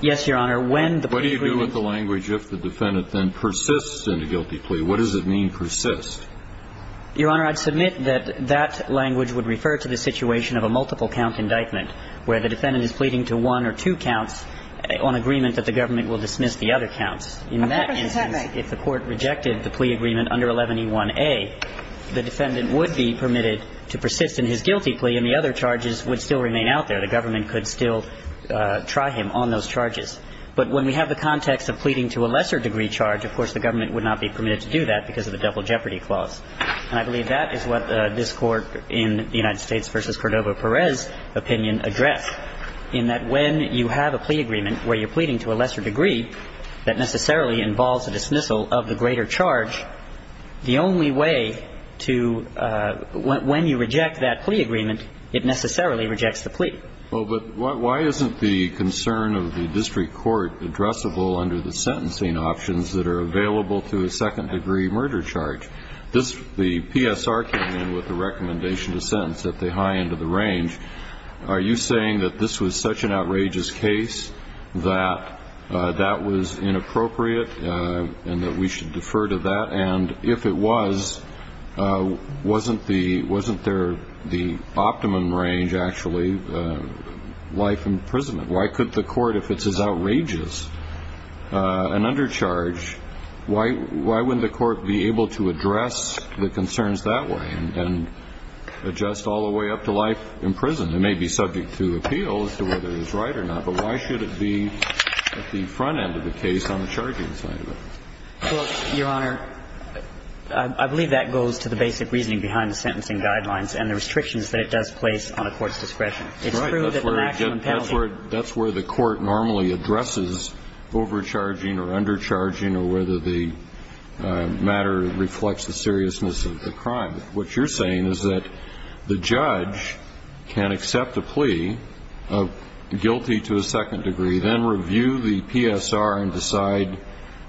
Yes, Your Honor. What do you do with the language if the defendant then persists in the guilty plea? What does it mean, persist? Your Honor, I'd submit that that language would refer to the situation of a multiple-count indictment, where the defendant is pleading to one or two counts on agreement that the government will dismiss the other counts. In that instance, if the court rejected the plea agreement under 11E1A, the defendant would be permitted to persist in his guilty plea and the other charges would still remain out there. The government could still try him on those charges. But when we have the context of pleading to a lesser-degree charge, of course, the government would not be permitted to do that because of a double jeopardy clause. I believe that is what this Court in the United States v. Cordova-Perez opinion addressed, in that when you have a plea agreement where you're pleading to a lesser degree that necessarily involves a dismissal of the greater charge, the only way to, when you reject that plea agreement, it necessarily rejects the plea. Well, but why isn't the concern of the district court addressable under the sentencing options that are available to a second-degree murder charge? The PSR came in with a recommendation to sentence at the high end of the range. Are you saying that this was such an outrageous case that that was inappropriate and that we should defer to that? And if it was, wasn't there the optimum range, actually, life in prison? Why could the court, if it's as outrageous an undercharge, why wouldn't the court be able to address the concerns that way and adjust all the way up to life in prison? It may be subject to appeal as to whether it was right or not, but why should it be at the front end of the case on the charging side? Well, Your Honor, I believe that goes to the basic reasoning behind the sentencing guidelines and the restrictions that it does place on a court's discretion. Right, that's where the court normally addresses overcharging or undercharging or whether the matter reflects the seriousness of the crime. What you're saying is that the judge can accept a plea of guilty to a second degree, then review the PSR and decide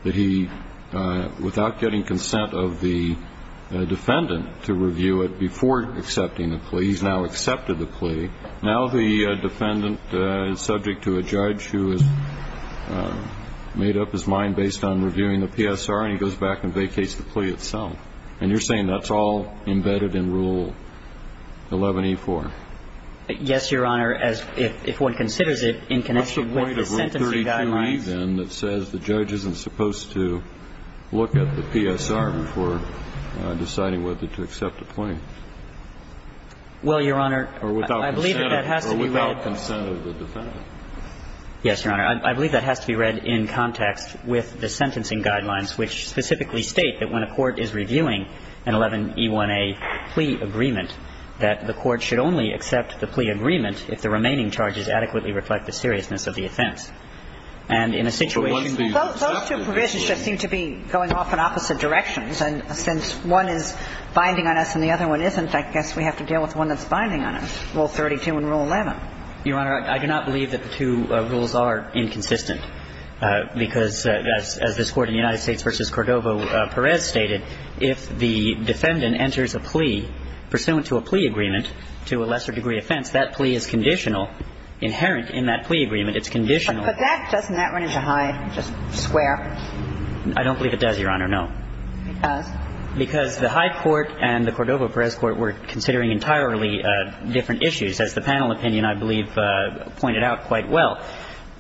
that he, without getting consent of the defendant to review it before accepting the plea, he's now accepted the plea. Now the defendant is subject to a judge who has made up his mind based on reviewing the PSR, and he goes back and vacates the plea itself. And you're saying that's all embedded in Rule 11E4? Yes, Your Honor, if one considers it in connection with the sentencing guidelines. What's the point of Rule 32E, then, that says the judge isn't supposed to look at the PSR before deciding whether to accept a plea? Well, Your Honor, I believe that has to be read... Or without consent of the defendant. Yes, Your Honor, I believe that has to be read in contact with the sentencing guidelines, which specifically state that when a court is reviewing an 11E1A plea agreement, that the court should only accept the plea agreement if the remaining charges adequately reflect the seriousness of the offense. And in a situation... Those two provisions just seem to be going off in opposite directions. And since one is binding on us and the other one isn't, I guess we have to deal with one that's binding on us, Rule 32 and Rule 11. Your Honor, I do not believe that the two rules are inconsistent. Because, as this Court of the United States v. Cordova-Perez stated, if the defendant enters a plea pursuant to a plea agreement to a lesser degree offense, that plea is conditional, inherent in that plea agreement. It's conditional. But doesn't that run into Hyde Square? I don't believe it does, Your Honor, no. It does? Because the Hyde Court and the Cordova-Perez Court were considering entirely different issues, as the panel opinion, I believe, pointed out quite well.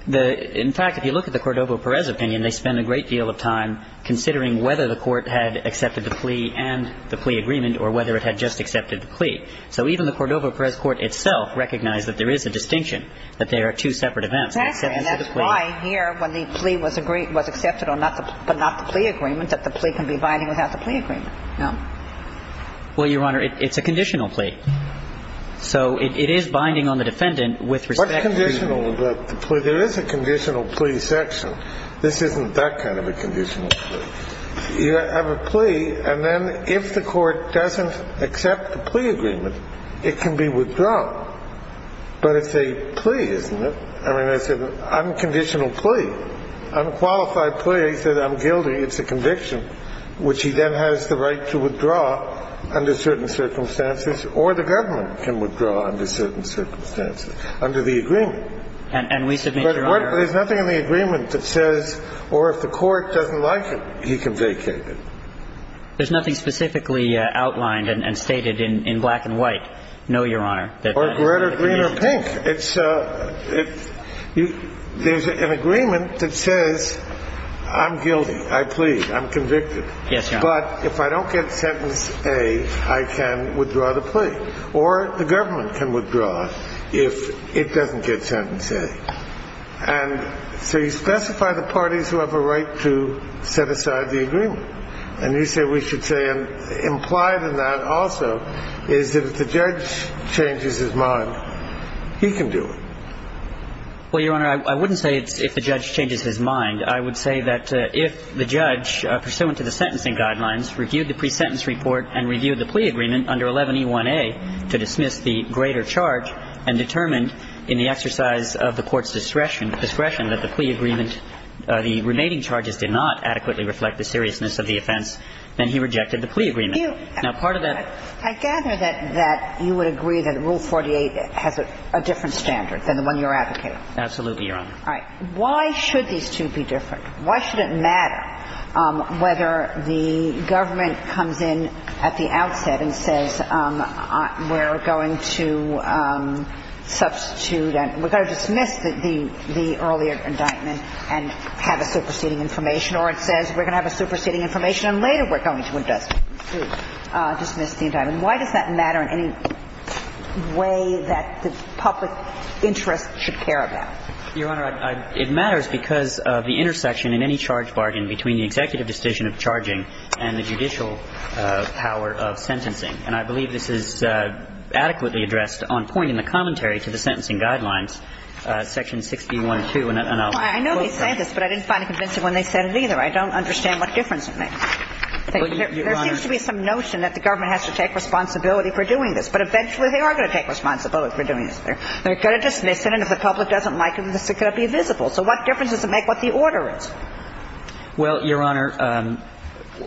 In fact, if you look at the Cordova-Perez opinion, they spent a great deal of time considering whether the court had accepted the plea and the plea agreement or whether it had just accepted the plea. So even the Cordova-Perez Court itself recognized that there is a distinction, that they are two separate events. Exactly, and that's why here, when the plea was accepted but not the plea agreement, that the plea can be binding without the plea agreement, no? Well, Your Honor, it's a conditional plea. So it is binding on the defendant with respect to the plea. What's conditional about the plea? There is a conditional plea section. This isn't that kind of a conditional plea. You have a plea, and then if the court doesn't accept the plea agreement, it can be withdrawn. But it's a plea, isn't it? I mean, it's an unconditional plea. On a qualified plea, he says, I'm guilty. It's a conviction, which he then has the right to withdraw under certain circumstances, or the government can withdraw under certain circumstances, under the agreement. And we submit, Your Honor. But there's nothing in the agreement that says, or if the court doesn't like it, he can vacate it. There's nothing specifically outlined and stated in black and white, no, Your Honor? Or red or green or pink. There's an agreement that says, I'm guilty, I plead, I'm convicted. Yes, Your Honor. But if I don't get sentence A, I can withdraw the plea. Or the government can withdraw if it doesn't get sentence A. And so you specify the parties who have a right to set aside the agreement. And you say we should say, implied in that also, is if the judge changes his mind, he can do it. Well, Your Honor, I wouldn't say if the judge changes his mind. I would say that if the judge, pursuant to the sentencing guidelines, reviewed the pre-sentence report and reviewed the plea agreement under 11E1A to dismiss the greater charge, and determined in the exercise of the court's discretion that the plea agreement, the remaining charges did not adequately reflect the seriousness of the offense, then he rejected the plea agreement. I gather that you would agree that Rule 48 has a different standard than the one you're advocating. Absolutely, Your Honor. Why should these two be different? Why should it matter whether the government comes in at the outset and says we're going to substitute, we're going to dismiss the earlier indictment and have a superseding information, or it says we're going to have a superseding information and later we're going to dismiss the indictment? Why does that matter in any way that the public interest should care about? Your Honor, it matters because of the intersection in any charge barging between the executive decision of charging and the judicial power of sentencing. And I believe this is adequately addressed on point in the commentary to the sentencing guidelines, Section 61-2. I know they say this, but I didn't find it convincing when they said it either. I don't understand what difference it makes. There seems to be some notion that the government has to take responsibility for doing this, but eventually they are going to take responsibility for doing this. So what difference does it make what the order is? Well, Your Honor,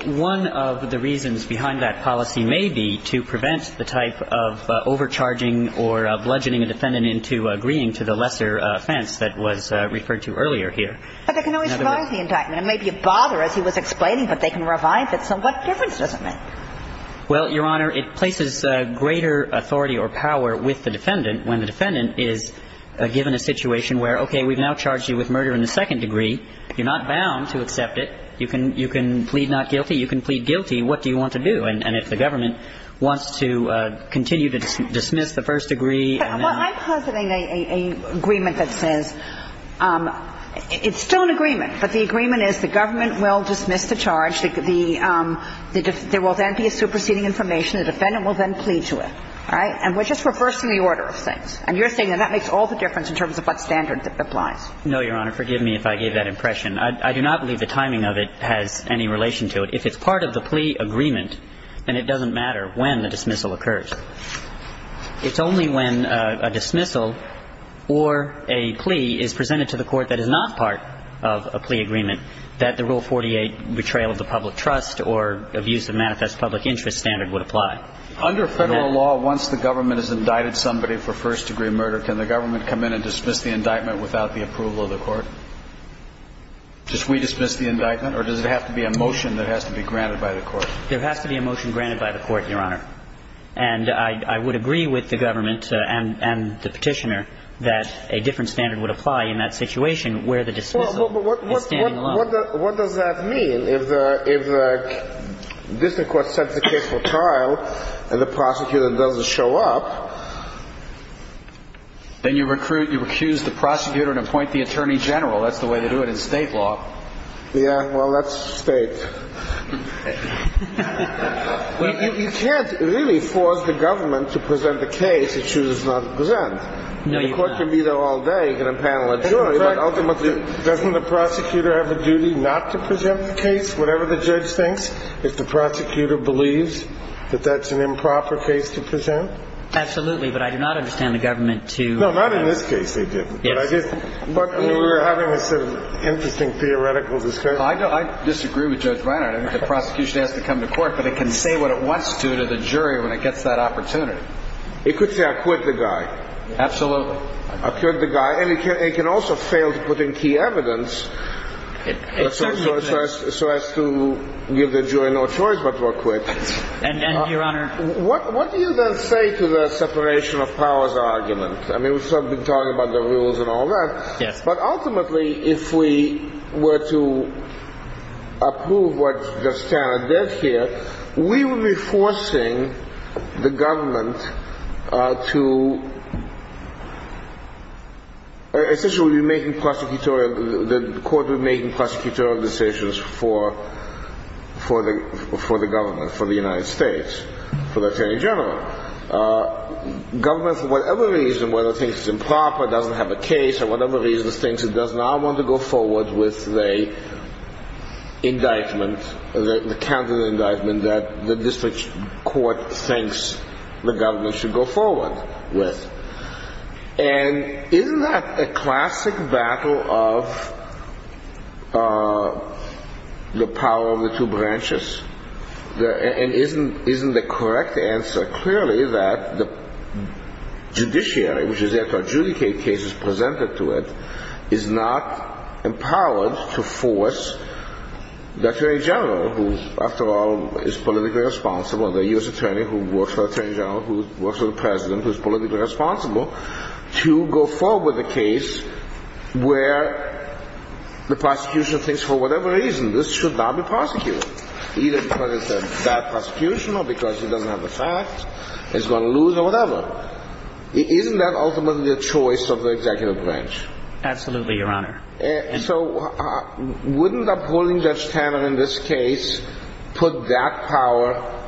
one of the reasons behind that policy may be to prevent the type of overcharging or bludgeoning a defendant into agreeing to the lesser offense that was referred to earlier here. But they can always revise the indictment. It may be a bother, as he was explaining, but they can revise it. So what difference does it make? Well, Your Honor, it places greater authority or power with the defendant when the defendant is given a situation where, okay, we've now charged you with murder in the second degree. You're not bound to accept it. You can plead not guilty. You can plead guilty. What do you want to do? And if the government wants to continue to dismiss the first degree. Well, I've come to an agreement that says, it's still an agreement, but the agreement is the government will dismiss the charge. There will then be a superseding information. The defendant will then plead to it. And we're just reversing the order of things. And you're saying that that makes all the difference in terms of what standards apply. No, Your Honor. Forgive me if I gave that impression. I do not believe the timing of it has any relation to it. If it's part of the plea agreement, then it doesn't matter when the dismissal occurs. It's only when a dismissal or a plea is presented to the court that is not part of a plea agreement that the Rule 48 betrayal of the public trust or abuse of manifest public interest standard would apply. Under federal law, once the government has indicted somebody for first degree murder, can the government come in and dismiss the indictment without the approval of the court? Just redismiss the indictment? Or does it have to be a motion that has to be granted by the court? There has to be a motion granted by the court, Your Honor. And I would agree with the government and the petitioner that a different standard would apply in that situation What does that mean? If the district court sets the case for trial and the prosecutor doesn't show up... Then you recuse the prosecutor and appoint the attorney general. That's the way they do it in state law. Yeah, well, that's state. You can't really force the government to present the case if she does not present. The court can be there all day. Doesn't the prosecutor have a duty not to present the case? Whatever the judge thinks? If the prosecutor believes that that's an improper case to present? Absolutely, but I do not understand the government to... No, not in this case they didn't. But we were having an interesting theoretical discussion. I disagree with Judge Brenner. The prosecution has to come to court. But it can say what it wants to to the jury when it gets that opportunity. It could say, I acquit the guy. Absolutely. I acquit the guy. And it can also fail to put in key evidence so as to give the jury no choice but to acquit. And your honor... What do you then say to the separation of powers argument? I mean, we've sort of been talking about the rules and all that. But ultimately, if we were to approve what Judge Tanner did here, we would be forcing the government to... Essentially, the court would be making prosecutorial decisions for the government, for the United States, for the Attorney General. The government, for whatever reason, whether it thinks it's improper, doesn't have a case, or whatever reason, thinks it does not want to go forward with the indictment, the candidate indictment that the district court thinks the government should go forward with. And isn't that a classic battle of the power of the two branches? And isn't the correct answer clearly that the judiciary, which is there to adjudicate cases presented to it, is not empowered to force the Attorney General, who, after all, is politically responsible, the U.S. Attorney who works for the Attorney General, who works for the President, who's politically responsible, to go forward with a case where the prosecution thinks, for whatever reason, this should not be prosecuted. Either because it's a bad prosecution, or because it doesn't have a fact, it's going to lose, or whatever. Isn't that ultimately the choice of the executive branch? Absolutely, Your Honor. So, wouldn't the ruling Judge Tanner, in this case, put that power,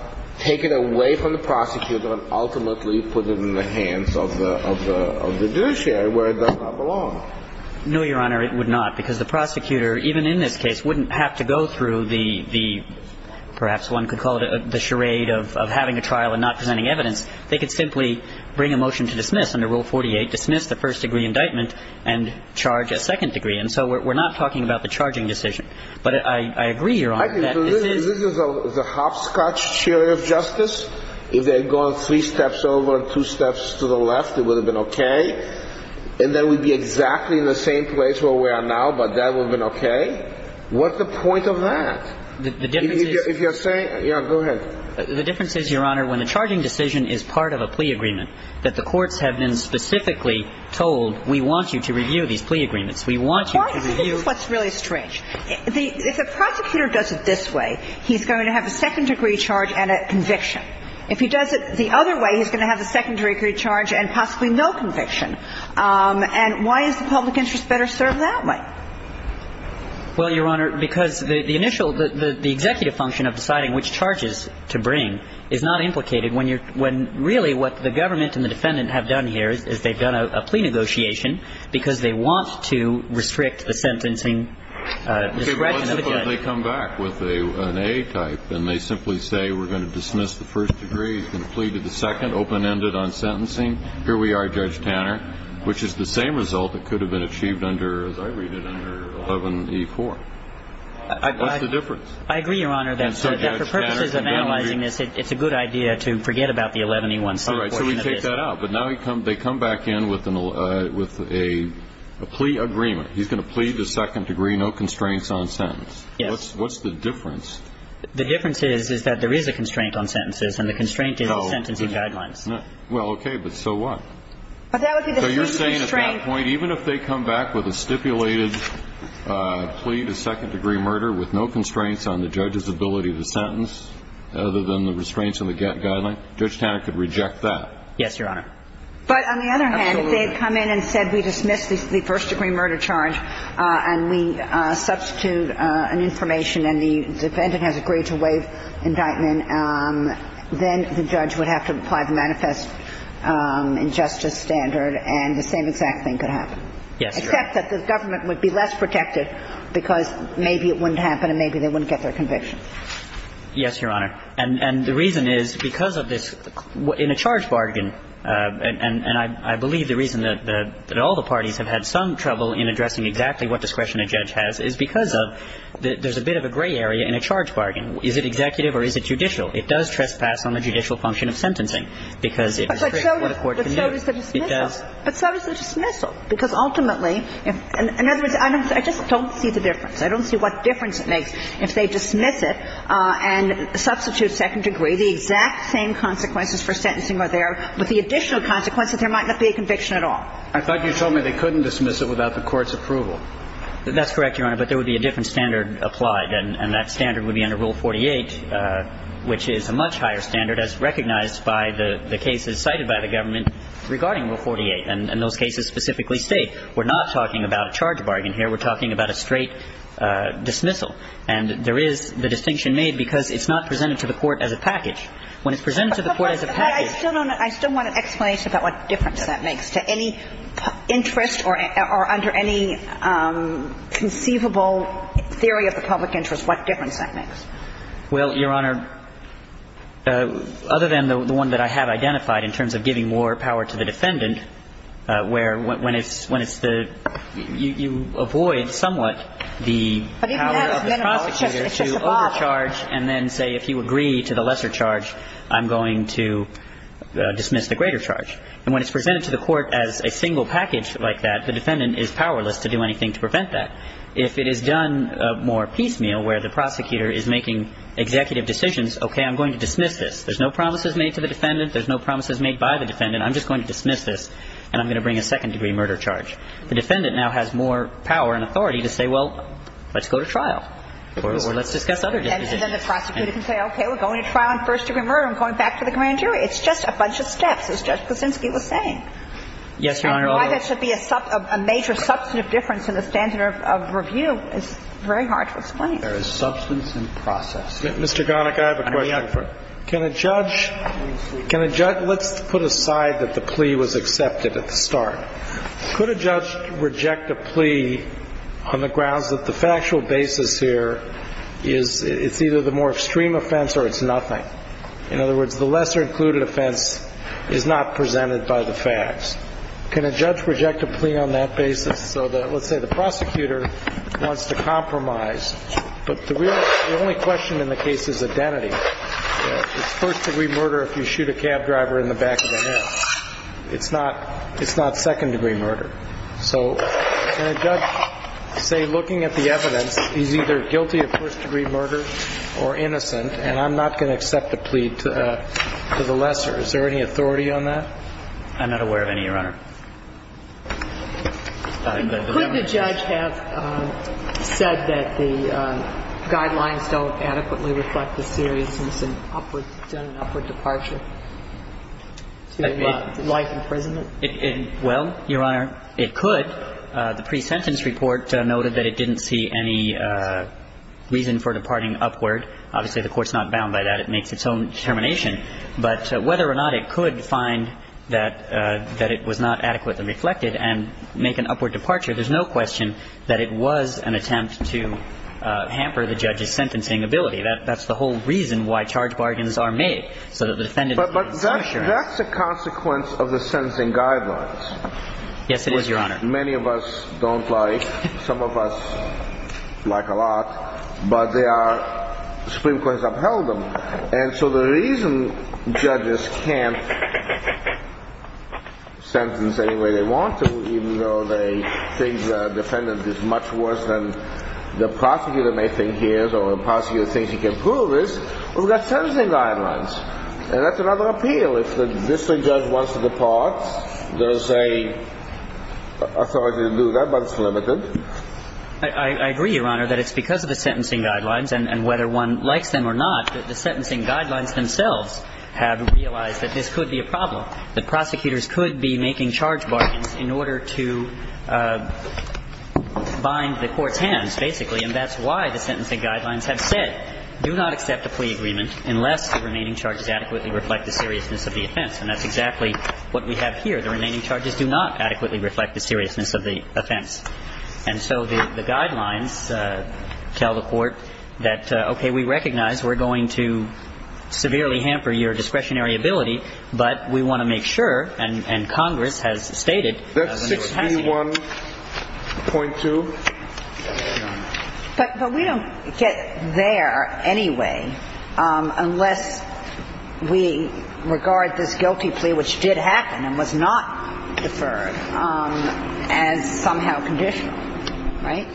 take it away from the prosecutor, and ultimately put it in the hands of the judiciary, where it does not belong? No, Your Honor, it would not. Because the prosecutor, even in this case, wouldn't have to go through the, perhaps one could call it, the charade of having a trial and not presenting evidence. They could simply bring a motion to dismiss under Rule 48, dismiss the first degree indictment, and charge a second degree. And so we're not talking about the charging decision. But I agree, Your Honor. This is the hopscotch chair of justice. If they had gone three steps over, two steps to the left, it would have been okay. And then we'd be exactly in the same place where we are now, but that would have been okay. What's the point of that? The difference is, Your Honor, when the charging decision is part of a plea agreement, that the courts have been specifically told, we want you to review these plea agreements. What's really strange, if a prosecutor does it this way, he's going to have a second degree charge and a conviction. If he does it the other way, he's going to have a second degree charge and possibly no conviction. And why is the public interest better served that way? Well, Your Honor, because the initial, the executive function of deciding which charges to bring is not implicated when you're, when really what the government and the defendant have done here is they've done a plea negotiation because they want to restrict the sentencing discretion of the judge. But they come back with an A-type, and they simply say, we're going to dismiss the first degree, he's going to plead to the second, open-ended on sentencing. Here we are, Judge Tanner, which is the same result that could have been achieved under, as I read it, under 11E4. That's the difference. I agree, Your Honor. And so Judge Tanner can now agree. The person who's analyzing this, it's a good idea to forget about the 11E1. Right, so we take that out. But now they come back in with a plea agreement. He's going to plead to second degree, no constraints on sentence. What's the difference? The difference is that there is a constraint on sentences, and the constraint is on sentencing guidelines. Well, okay, but so what? So you're saying at that point, even if they come back with a stipulated plea to second degree murder with no constraints on the judge's ability to sentence other than the restraints on the guidelines, Judge Tanner could reject that? Yes, Your Honor. But on the other hand, if they had come in and said we dismiss the first degree murder charge and we substitute an information and the defendant has agreed to waive indictment, then the judge would have to apply the manifest injustice standard and the same exact thing could happen. Yes, Your Honor. Except that the government would be less protected because maybe it wouldn't happen and maybe they wouldn't get their conviction. Yes, Your Honor. And the reason is because in a charge bargain, and I believe the reason that all the parties have had some trouble in addressing exactly what discretion a judge has is because there's a bit of a gray area in a charge bargain. Is it executive or is it judicial? It does trespass on the judicial function of sentencing because it restricts what a court can do. But so does the dismissal. Because ultimately, in other words, I just don't see the difference. I don't see what difference it makes if they dismiss it and substitute second degree. The exact same consequences for sentencing are there. But the additional consequences, there might not be a conviction at all. I thought you told me they couldn't dismiss it without the court's approval. That's correct, Your Honor, but there would be a different standard applied and that standard would be under Rule 48, which is a much higher standard as recognized by the cases cited by the government regarding Rule 48. And those cases specifically state we're not talking about a charge bargain here. We're talking about a straight dismissal. And there is the distinction made because it's not presented to the court as a package. When it's presented to the court as a package. I still want to explain to you about what difference that makes to any interest or under any conceivable theory of the public interest, what difference that makes. Well, Your Honor, other than the one that I have identified in terms of giving more power to the defendant, where you avoid somewhat the power of the prosecutor to overcharge and then say if you agree to the lesser charge, I'm going to dismiss the greater charge. And when it's presented to the court as a single package like that, the defendant is powerless to do anything to prevent that. If it is done more piecemeal where the prosecutor is making executive decisions, okay, I'm going to dismiss this. There's no promises made to the defendant. There's no promises made by the defendant. I'm just going to dismiss this, and I'm going to bring a second-degree murder charge. The defendant now has more power and authority to say, well, let's go to trial, or let's discuss other decisions. And then the prosecutor can say, okay, we're going to trial on first-degree murder and going back to the grand jury. It's just a bunch of steps. It's just the things he was saying. Yes, Your Honor. I don't know why that should be a major substantive difference in the standard of review. It's very hard to explain. There is substance and process. Mr. Garnock, I have a question. Let's put aside that the plea was accepted at the start. Could a judge reject a plea on the grounds that the factual basis here is it's either the more extreme offense or it's nothing? In other words, the lesser-included offense is not presented by the facts. Can a judge reject a plea on that basis so that, let's say, the prosecutor wants to compromise, The only question in the case is identity. It's first-degree murder if you shoot a cab driver in the back of the head. It's not second-degree murder. So can a judge say, looking at the evidence, he's either guilty of first-degree murder or innocent, and I'm not going to accept a plea to the lesser? Is there any authority on that? I'm not aware of any, Your Honor. Could the judge have said that the guidelines don't adequately reflect the theory since it's done an upward departure? Why imprisonment? Well, Your Honor, it could. The pre-sentence report noted that it didn't see any reason for departing upward. Obviously, the court's not bound by that. It makes its own determination. But whether or not it could find that it was not adequately reflected and make an upward departure, there's no question that it was an attempt to hamper the judge's sentencing ability. That's the whole reason why charge bargains are made. But that's a consequence of the sentencing guidelines. Yes, it is, Your Honor. Which many of us don't like. Some of us like a lot. But the Supreme Court has upheld them. And so the reason judges can't sentence any way they want to, even though they think the defendant is much worse than the prosecutor may think he is or the prosecutor thinks he can prove is because of the sentencing guidelines. And that's another appeal. If the district judge wants to depart, there's an authority to do that, but it's limited. I agree, Your Honor, that it's because of the sentencing guidelines and whether one likes them or not that the sentencing guidelines themselves have realized that this could be a problem, that prosecutors could be making charge bargains in order to bind the court hands, basically. And that's why the sentencing guidelines have said, do not accept a plea agreement unless the remaining charges adequately reflect the seriousness of the offense. And that's exactly what we have here. The remaining charges do not adequately reflect the seriousness of the offense. And so the guidelines tell the court that, okay, we recognize we're going to severely hamper your discretionary ability, but we want to make sure, and Congress has stated, But we don't get there anyway unless we regard this guilty plea, which did happen and was not deferred, as somehow conditional. Right?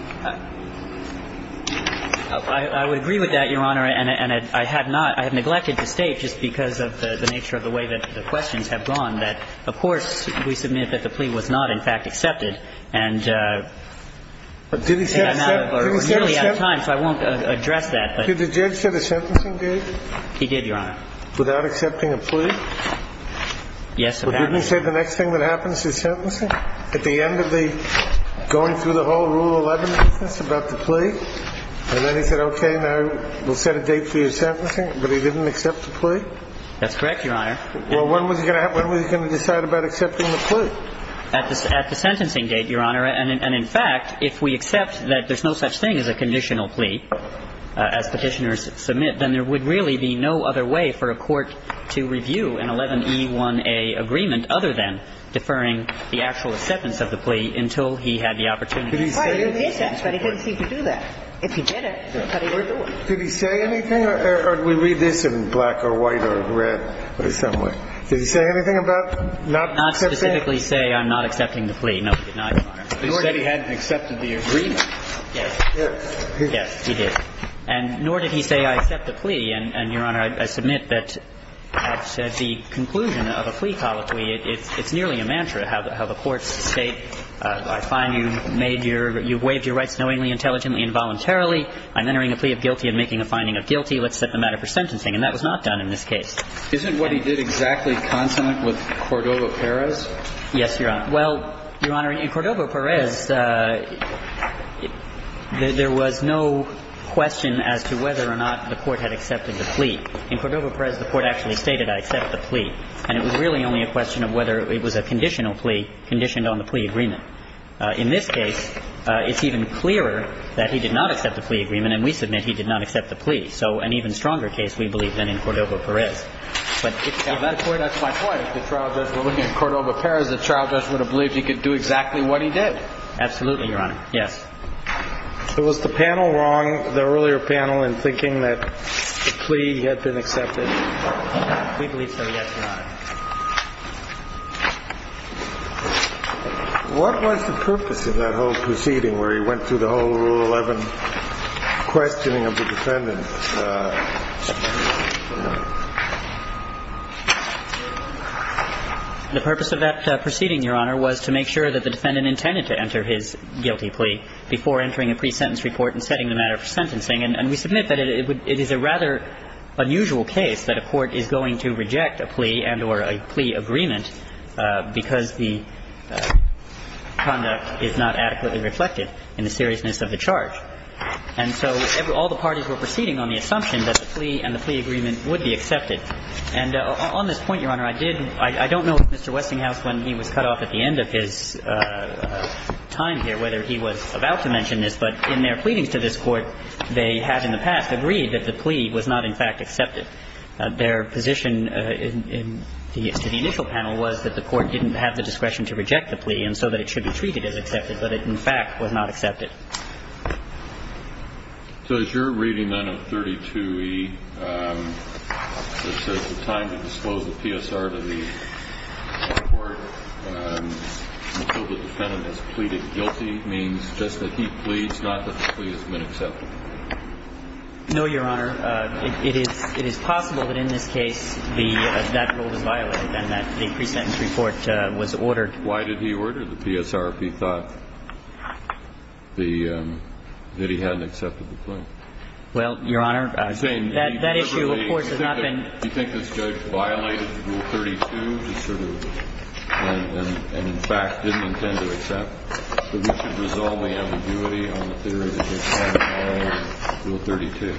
I would agree with that, Your Honor. And I have neglected to say, just because of the nature of the way that the questions have gone, that the court, we submit that the plea was not, in fact, accepted. And I'm out of time, so I won't address that. Did the judge say the sentencing did? He did, Your Honor. Without accepting a plea? Yes, Your Honor. Well, didn't he say the next thing that happens is sentencing? At the end of the going through the whole Rule 11 about the plea? And then he said, okay, now we'll set a date for your sentencing, but he didn't accept the plea? That's correct, Your Honor. Well, when was he going to decide about accepting the plea? At the sentencing date, Your Honor. And, in fact, if we accept that there's no such thing as a conditional plea, as Petitioners submit, then there would really be no other way for a court to review an 11E1A agreement other than deferring the actual acceptance of the plea until he had the opportunity. He did that, but he didn't seem to do that. If he did it, that's how he would do it. Did he say anything? Or do we read this in black or white or red or somewhere? Did he say anything about not accepting? Not specifically say I'm not accepting the plea. No, he did not, Your Honor. He said he hadn't accepted the agreement. Yes. He did. He did. And nor did he say I accept the plea. And, Your Honor, I submit that the conclusion of a plea policy, it's nearly a mantra, how the courts say, I find you've waived your rights knowingly, intelligently, involuntarily. I'm entering a plea of guilty and making a finding of guilty. Let's set the matter for sentencing. And that was not done in this case. Isn't what he did exactly consonant with Cordova-Perez? Yes, Your Honor. Well, Your Honor, in Cordova-Perez, there was no question as to whether or not the court had accepted the plea. In Cordova-Perez, the court actually stated I accept the plea. And it was really only a question of whether it was a conditional plea conditioned on the plea agreement. In this case, it's even clearer that he did not accept the plea agreement, and we submit he did not accept the plea. So an even stronger case, we believe, than in Cordova-Perez. That's where that's my point. If the trial judge were looking at Cordova-Perez, the trial judge would have believed he could do exactly what he did. Absolutely, Your Honor. Yes. So was the panel wrong, the earlier panel, in thinking that the plea had been accepted? We believe so, yes, Your Honor. What was the purpose of that whole proceeding where he went through the whole Rule 11 questioning of the defendant? The purpose of that proceeding, Your Honor, was to make sure that the defendant intended to enter his guilty plea before entering the pre-sentence report and setting the matter for sentencing. And we submit that it is a rather unusual case that a court is going to reject a plea and or a plea agreement because the conduct is not adequately reflected in the seriousness of the charge. And so all the parties were proceeding on the assumption that the plea and the plea agreement would be accepted. And on this point, Your Honor, I don't know if Mr. Westinghouse, when he was cut off at the end of his time here, I don't know whether he was about to mention this, but in their pleading to this court, they had in the past agreed that the plea was not, in fact, accepted. Their position to the initial panel was that the court didn't have the discretion to reject the plea and so that it should be treated as accepted, but it, in fact, was not accepted. So if you're reading 932E, it says, The time to disclose the PSR to the court until the defendant has pleaded guilty means just that he pleads, not that the plea has been accepted. No, Your Honor. It is possible that in this case that rule was violated and that the pre-sentence report was ordered. Why did he order the PSR if he thought that he hadn't accepted the plea? Well, Your Honor, that issue, of course, has not been... Do you think this judge violated Rule 32 and, in fact, didn't intend to accept? So we should dissolve the ambiguity and consider it as accepted by Rule 32.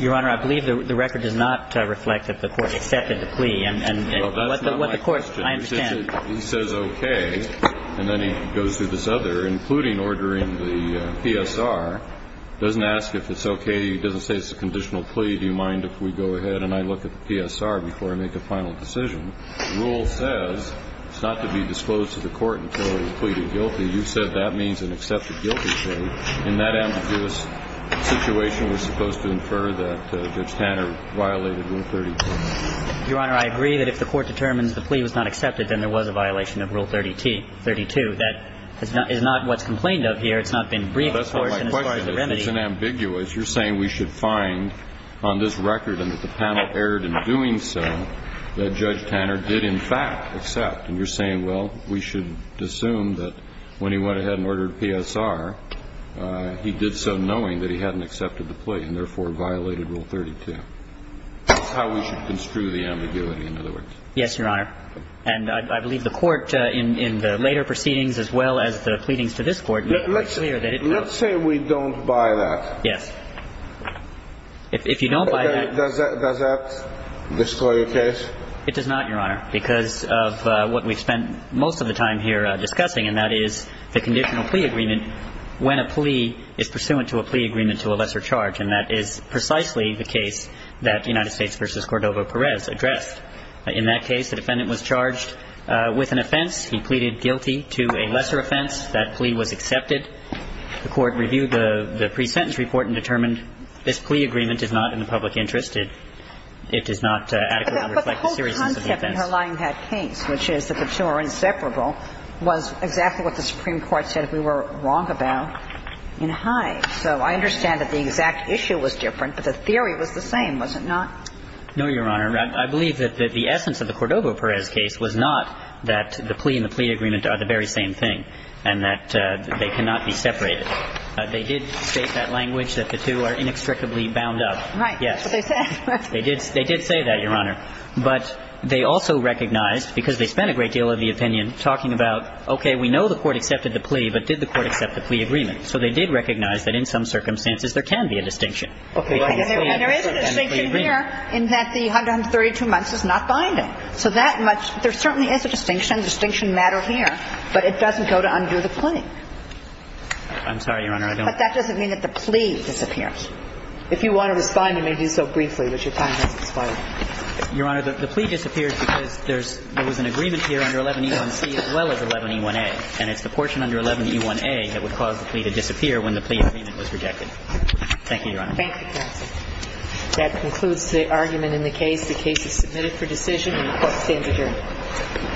Your Honor, I believe the record does not reflect that the court accepted the plea. Well, that's not my question. I understand. He says okay, and then he goes through this other, including ordering the PSR, doesn't ask if it's okay, he doesn't say it's a conditional plea, do you mind if we go ahead and I look at the PSR before I make a final decision. The rule says it's not to be disclosed to the court until he has pleaded guilty. You said that means an accepted guilty plea. In that ambiguous situation, we're supposed to infer that Judge Tanner violated Rule 32. Your Honor, I agree that if the court determines the plea was not accepted, then there was a violation of Rule 32. That is not what's complained of here. It's not been briefed to the court. That's not my question. It's just ambiguous. You're saying we should find on this record and that the panel erred in doing so that Judge Tanner did, in fact, accept. And you're saying, well, we should assume that when he went ahead and ordered PSR, he did so knowing that he hadn't accepted the plea and, therefore, violated Rule 32. That's how we should construe the ambiguity, in other words. Yes, Your Honor. And I believe the court, in the later proceedings as well as the pleadings to this court, made it clear that it's not. Let's say we don't buy that. Yes. If you don't buy that. Does that disclose your case? It does not, Your Honor, because of what we've spent most of the time here discussing, and that is the conditional plea agreement when a plea is pursuant to a plea agreement to a lesser charge. And that is precisely the case that the United States v. Cordova-Perez addressed. In that case, the defendant was charged with an offense. He pleaded guilty to a lesser offense. That plea was accepted. The court reviewed the pre-sentence report and determined this plea agreement is not in the public interest. It does not adequately reflect the jurisprudence of the defendant. But the whole concept in her lying hat case, which is that the two are inseparable, was exactly what the Supreme Court said we were wrong about in Hines. So I understand that the exact issue was different, but the theory was the same, was it not? No, Your Honor. I believe that the essence of the Cordova-Perez case was not that the plea and the plea agreement are the very same thing and that they cannot be separated. They did state that language that the two are inextricably bound up. Right. They did say that, Your Honor. But they also recognized, because they spent a great deal of the opinion talking about, okay, we know the court accepted the plea, but did the court accept the plea agreement? So they did recognize that in some circumstances there can be a distinction. Okay. And there is a distinction here in that the 132 months is not binding. So that much – there certainly is a distinction, a distinction matter here. But it doesn't go to undo the plea. I'm sorry, Your Honor, I don't – But that doesn't mean that the plea disappears. If you want to refine it, maybe so briefly, but you're talking about the plea. Your Honor, the plea disappears because there's – there was an agreement here under 11E1C as well as 11E1A. And it's the portion under 11E1A that would cause the plea to disappear when the plea agreement was rejected. Thank you, Your Honor. Thank you, Your Honor. That concludes the argument in the case. The case is submitted for decision, and the court stands adjourned.